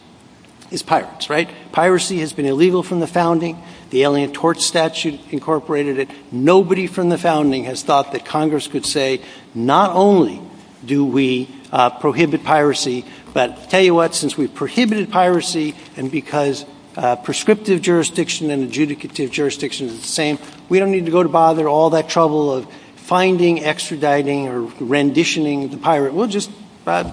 is pirates, right? Piracy has been illegal from the founding. The Alien Tort Statute incorporated it. Nobody from the founding has thought that Congress could say not only do we prohibit piracy, but tell you what, since we've prohibited piracy and because prescriptive jurisdiction and adjudicative jurisdiction are the same, we don't need to go to bother all that trouble of finding, extraditing, or renditioning the pirate. We'll just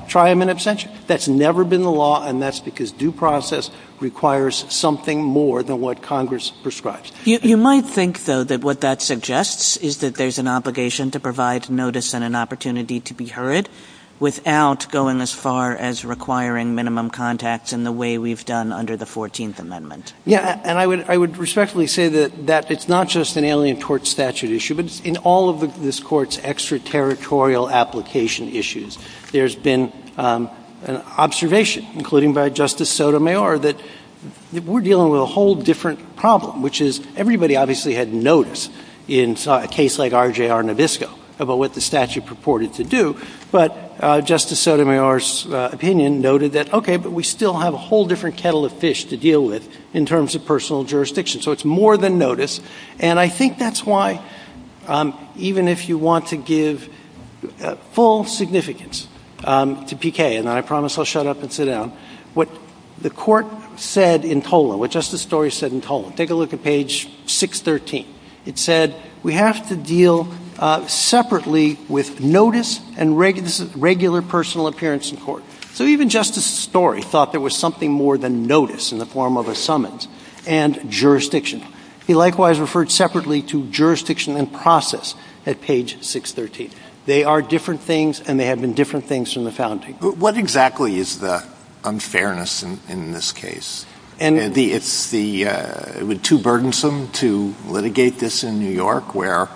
try him in absentia. That's never been the law, and that's because due process requires something more than what Congress prescribes. You might think, though, that what that suggests is that there's an obligation to provide notice and an opportunity to be heard without going as far as requiring minimum contact in the way we've done under the 14th Amendment. Yeah, and I would respectfully say that it's not just an Alien Tort Statute issue, but in all of this Court's extraterritorial application issues, there's been an observation, including by Justice Sotomayor, that we're dealing with a whole different problem, which is everybody obviously had notice in a case like RJR Novisco about what the statute purported to do, but Justice Sotomayor's opinion noted that, okay, but we still have a whole different kettle of fish to deal with in terms of personal jurisdiction. So it's more than notice, and I think that's why even if you want to give full significance to PK, and I promise I'll shut up and sit down, what the Court said in TOLA, what Justice Story said in TOLA, take a look at page 613. It said we have to deal separately with notice and regular personal appearance in court. So even Justice Story thought there was something more than notice in the form of a summons and jurisdiction. He likewise referred separately to jurisdiction and process at page 613. They are different things, and they have been different things from the founding. What exactly is the unfairness in this case? Is it too burdensome to litigate this in New York where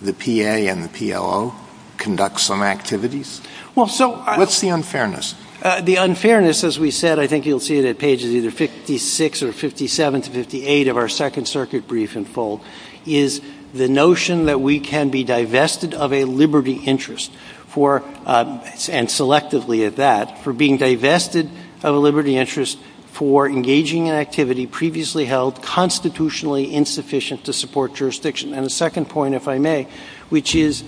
the PA and PLO conduct some activities? What's the unfairness? The unfairness, as we said, I think you'll see it at pages either 56 or 57 to 58 of our Second Circuit brief in full, is the notion that we can be divested of a liberty interest for, and selectively at that, for being divested of a liberty interest for engaging in activity previously held constitutionally insufficient to support jurisdiction. And the second point, if I may, which is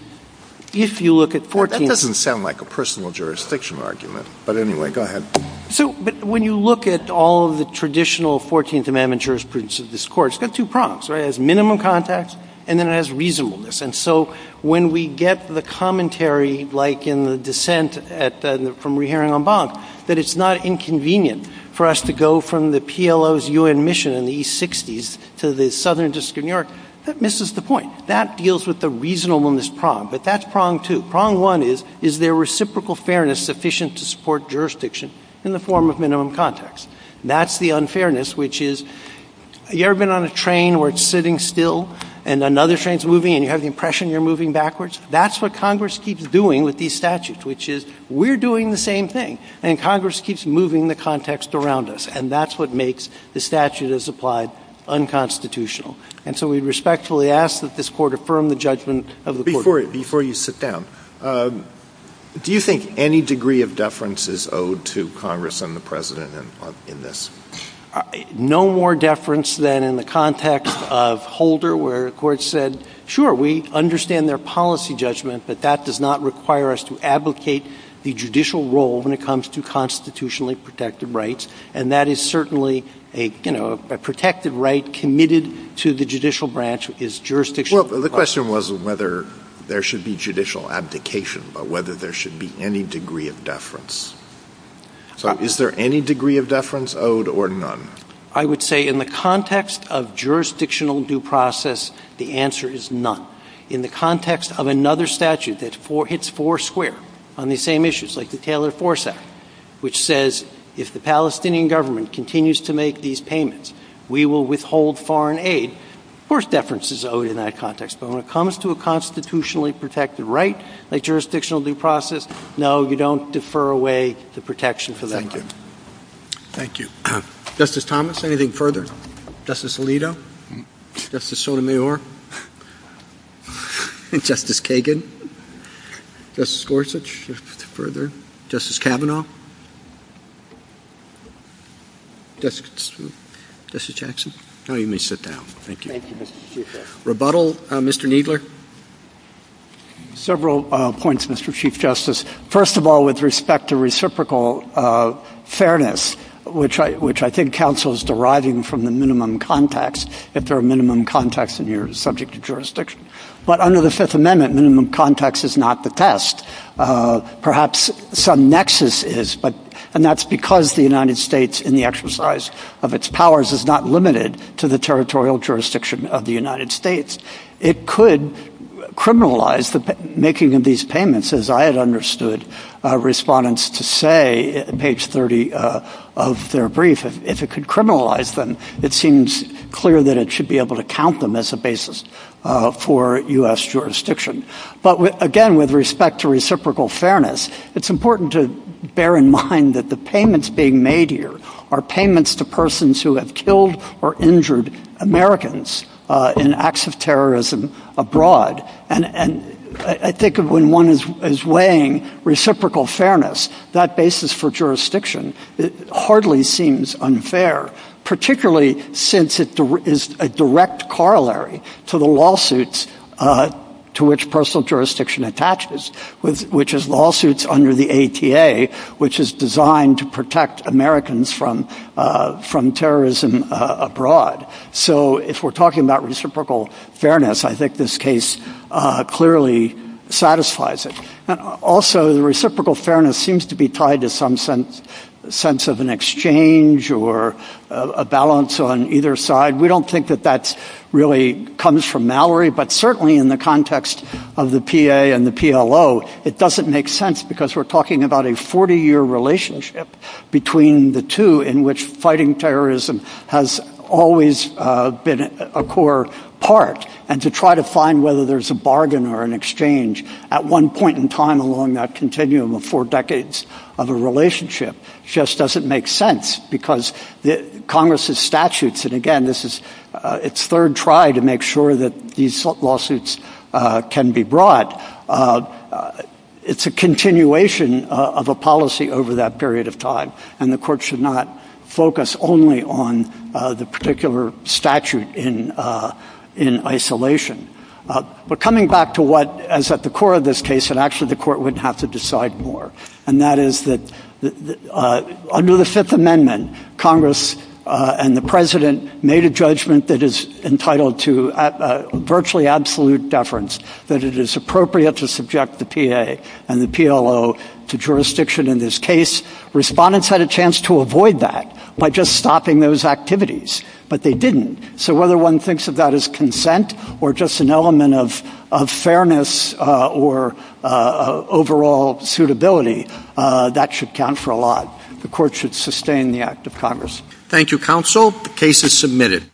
if you look at 14… That doesn't sound like a personal jurisdiction argument, but anyway, go ahead. But when you look at all of the traditional 14th Amendment jurisprudence of this Court, it's got two prongs. It has minimum context, and then it has reasonableness. And so when we get the commentary, like in the dissent from Rehering on Bond, that it's not inconvenient for us to go from the PLO's U.N. mission in the East 60s to the Southern District of New York, that misses the point. That deals with the reasonableness prong. But that's prong two. The prong one is, is there reciprocal fairness sufficient to support jurisdiction in the form of minimum context? That's the unfairness, which is, you ever been on a train where it's sitting still, and another train's moving, and you have the impression you're moving backwards? That's what Congress keeps doing with these statutes, which is, we're doing the same thing. And Congress keeps moving the context around us. And that's what makes the statute as applied unconstitutional. And so we respectfully ask that this Court affirm the judgment of the Court. Before you sit down, do you think any degree of deference is owed to Congress and the President in this? No more deference than in the context of Holder, where the Court said, sure, we understand their policy judgment, but that does not require us to advocate the judicial role when it comes to constitutionally protected rights. And that is certainly a protected right committed to the judicial branch is jurisdictional. Well, the question was whether there should be judicial abdication or whether there should be any degree of deference. So is there any degree of deference owed or none? I would say in the context of jurisdictional due process, the answer is none. In the context of another statute that hits four square on the same issues, like the Taylor Force Act, which says if the Palestinian government continues to make these payments, we will withhold foreign aid, of course, deference is owed in that context. But when it comes to a constitutionally protected right, like jurisdictional due process, no, you don't defer away the protection for that. Thank you. Thank you. Justice Thomas, anything further? Justice Alito? Justice Sotomayor? Justice Kagan? Justice Gorsuch, anything further? Justice Kavanaugh? Justice Jackson? No, you may sit down. Thank you. Thank you, Mr. Chief Justice. Rebuttal, Mr. Kneedler? Several points, Mr. Chief Justice. First of all, with respect to reciprocal fairness, which I think counsel is deriving from the minimum context, if there are minimum contexts and you're subject to jurisdiction. But under the Fifth Amendment, minimum context is not the test. Perhaps some nexus is, and that's because the United States, in the exercise of its powers, is not limited to the territorial jurisdiction of the United States. It could criminalize the making of these payments, as I had understood respondents to say, in page 30 of their brief, if it could criminalize them, it seems clear that it should be able to count them as a basis for U.S. jurisdiction. But, again, with respect to reciprocal fairness, it's important to bear in mind that the payments being made here are payments to persons who have killed or injured Americans in acts of terrorism abroad. And I think when one is weighing reciprocal fairness, that basis for jurisdiction hardly seems unfair, particularly since it is a direct corollary to the lawsuits to which personal jurisdiction attaches, which is lawsuits under the ATA, which is designed to protect Americans from terrorism abroad. So if we're talking about reciprocal fairness, I think this case clearly satisfies it. Also, the reciprocal fairness seems to be tied to some sense of an exchange or a balance on either side. We don't think that that really comes from Mallory, but certainly in the context of the PA and the PLO, it doesn't make sense because we're talking about a 40-year relationship between the two in which fighting terrorism has always been a core part, and to try to find whether there's a bargain or an exchange at one point in time along that continuum of four decades of a relationship just doesn't make sense because Congress's statutes, and again, this is its third try to make sure that these lawsuits can be brought, it's a continuation of a policy over that period of time, and the Court should not focus only on the particular statute in isolation. But coming back to what is at the core of this case, and actually the Court wouldn't have to decide more, and that is that under the Fifth Amendment, Congress and the President made a judgment that is entitled to virtually absolute deference, that it is appropriate to subject the PA and the PLO to jurisdiction in this case. Respondents had a chance to avoid that by just stopping those activities, but they didn't. So whether one thinks of that as consent or just an element of fairness or overall suitability, that should count for a lot. The Court should sustain the act of Congress. Thank you, Counsel. The case is submitted.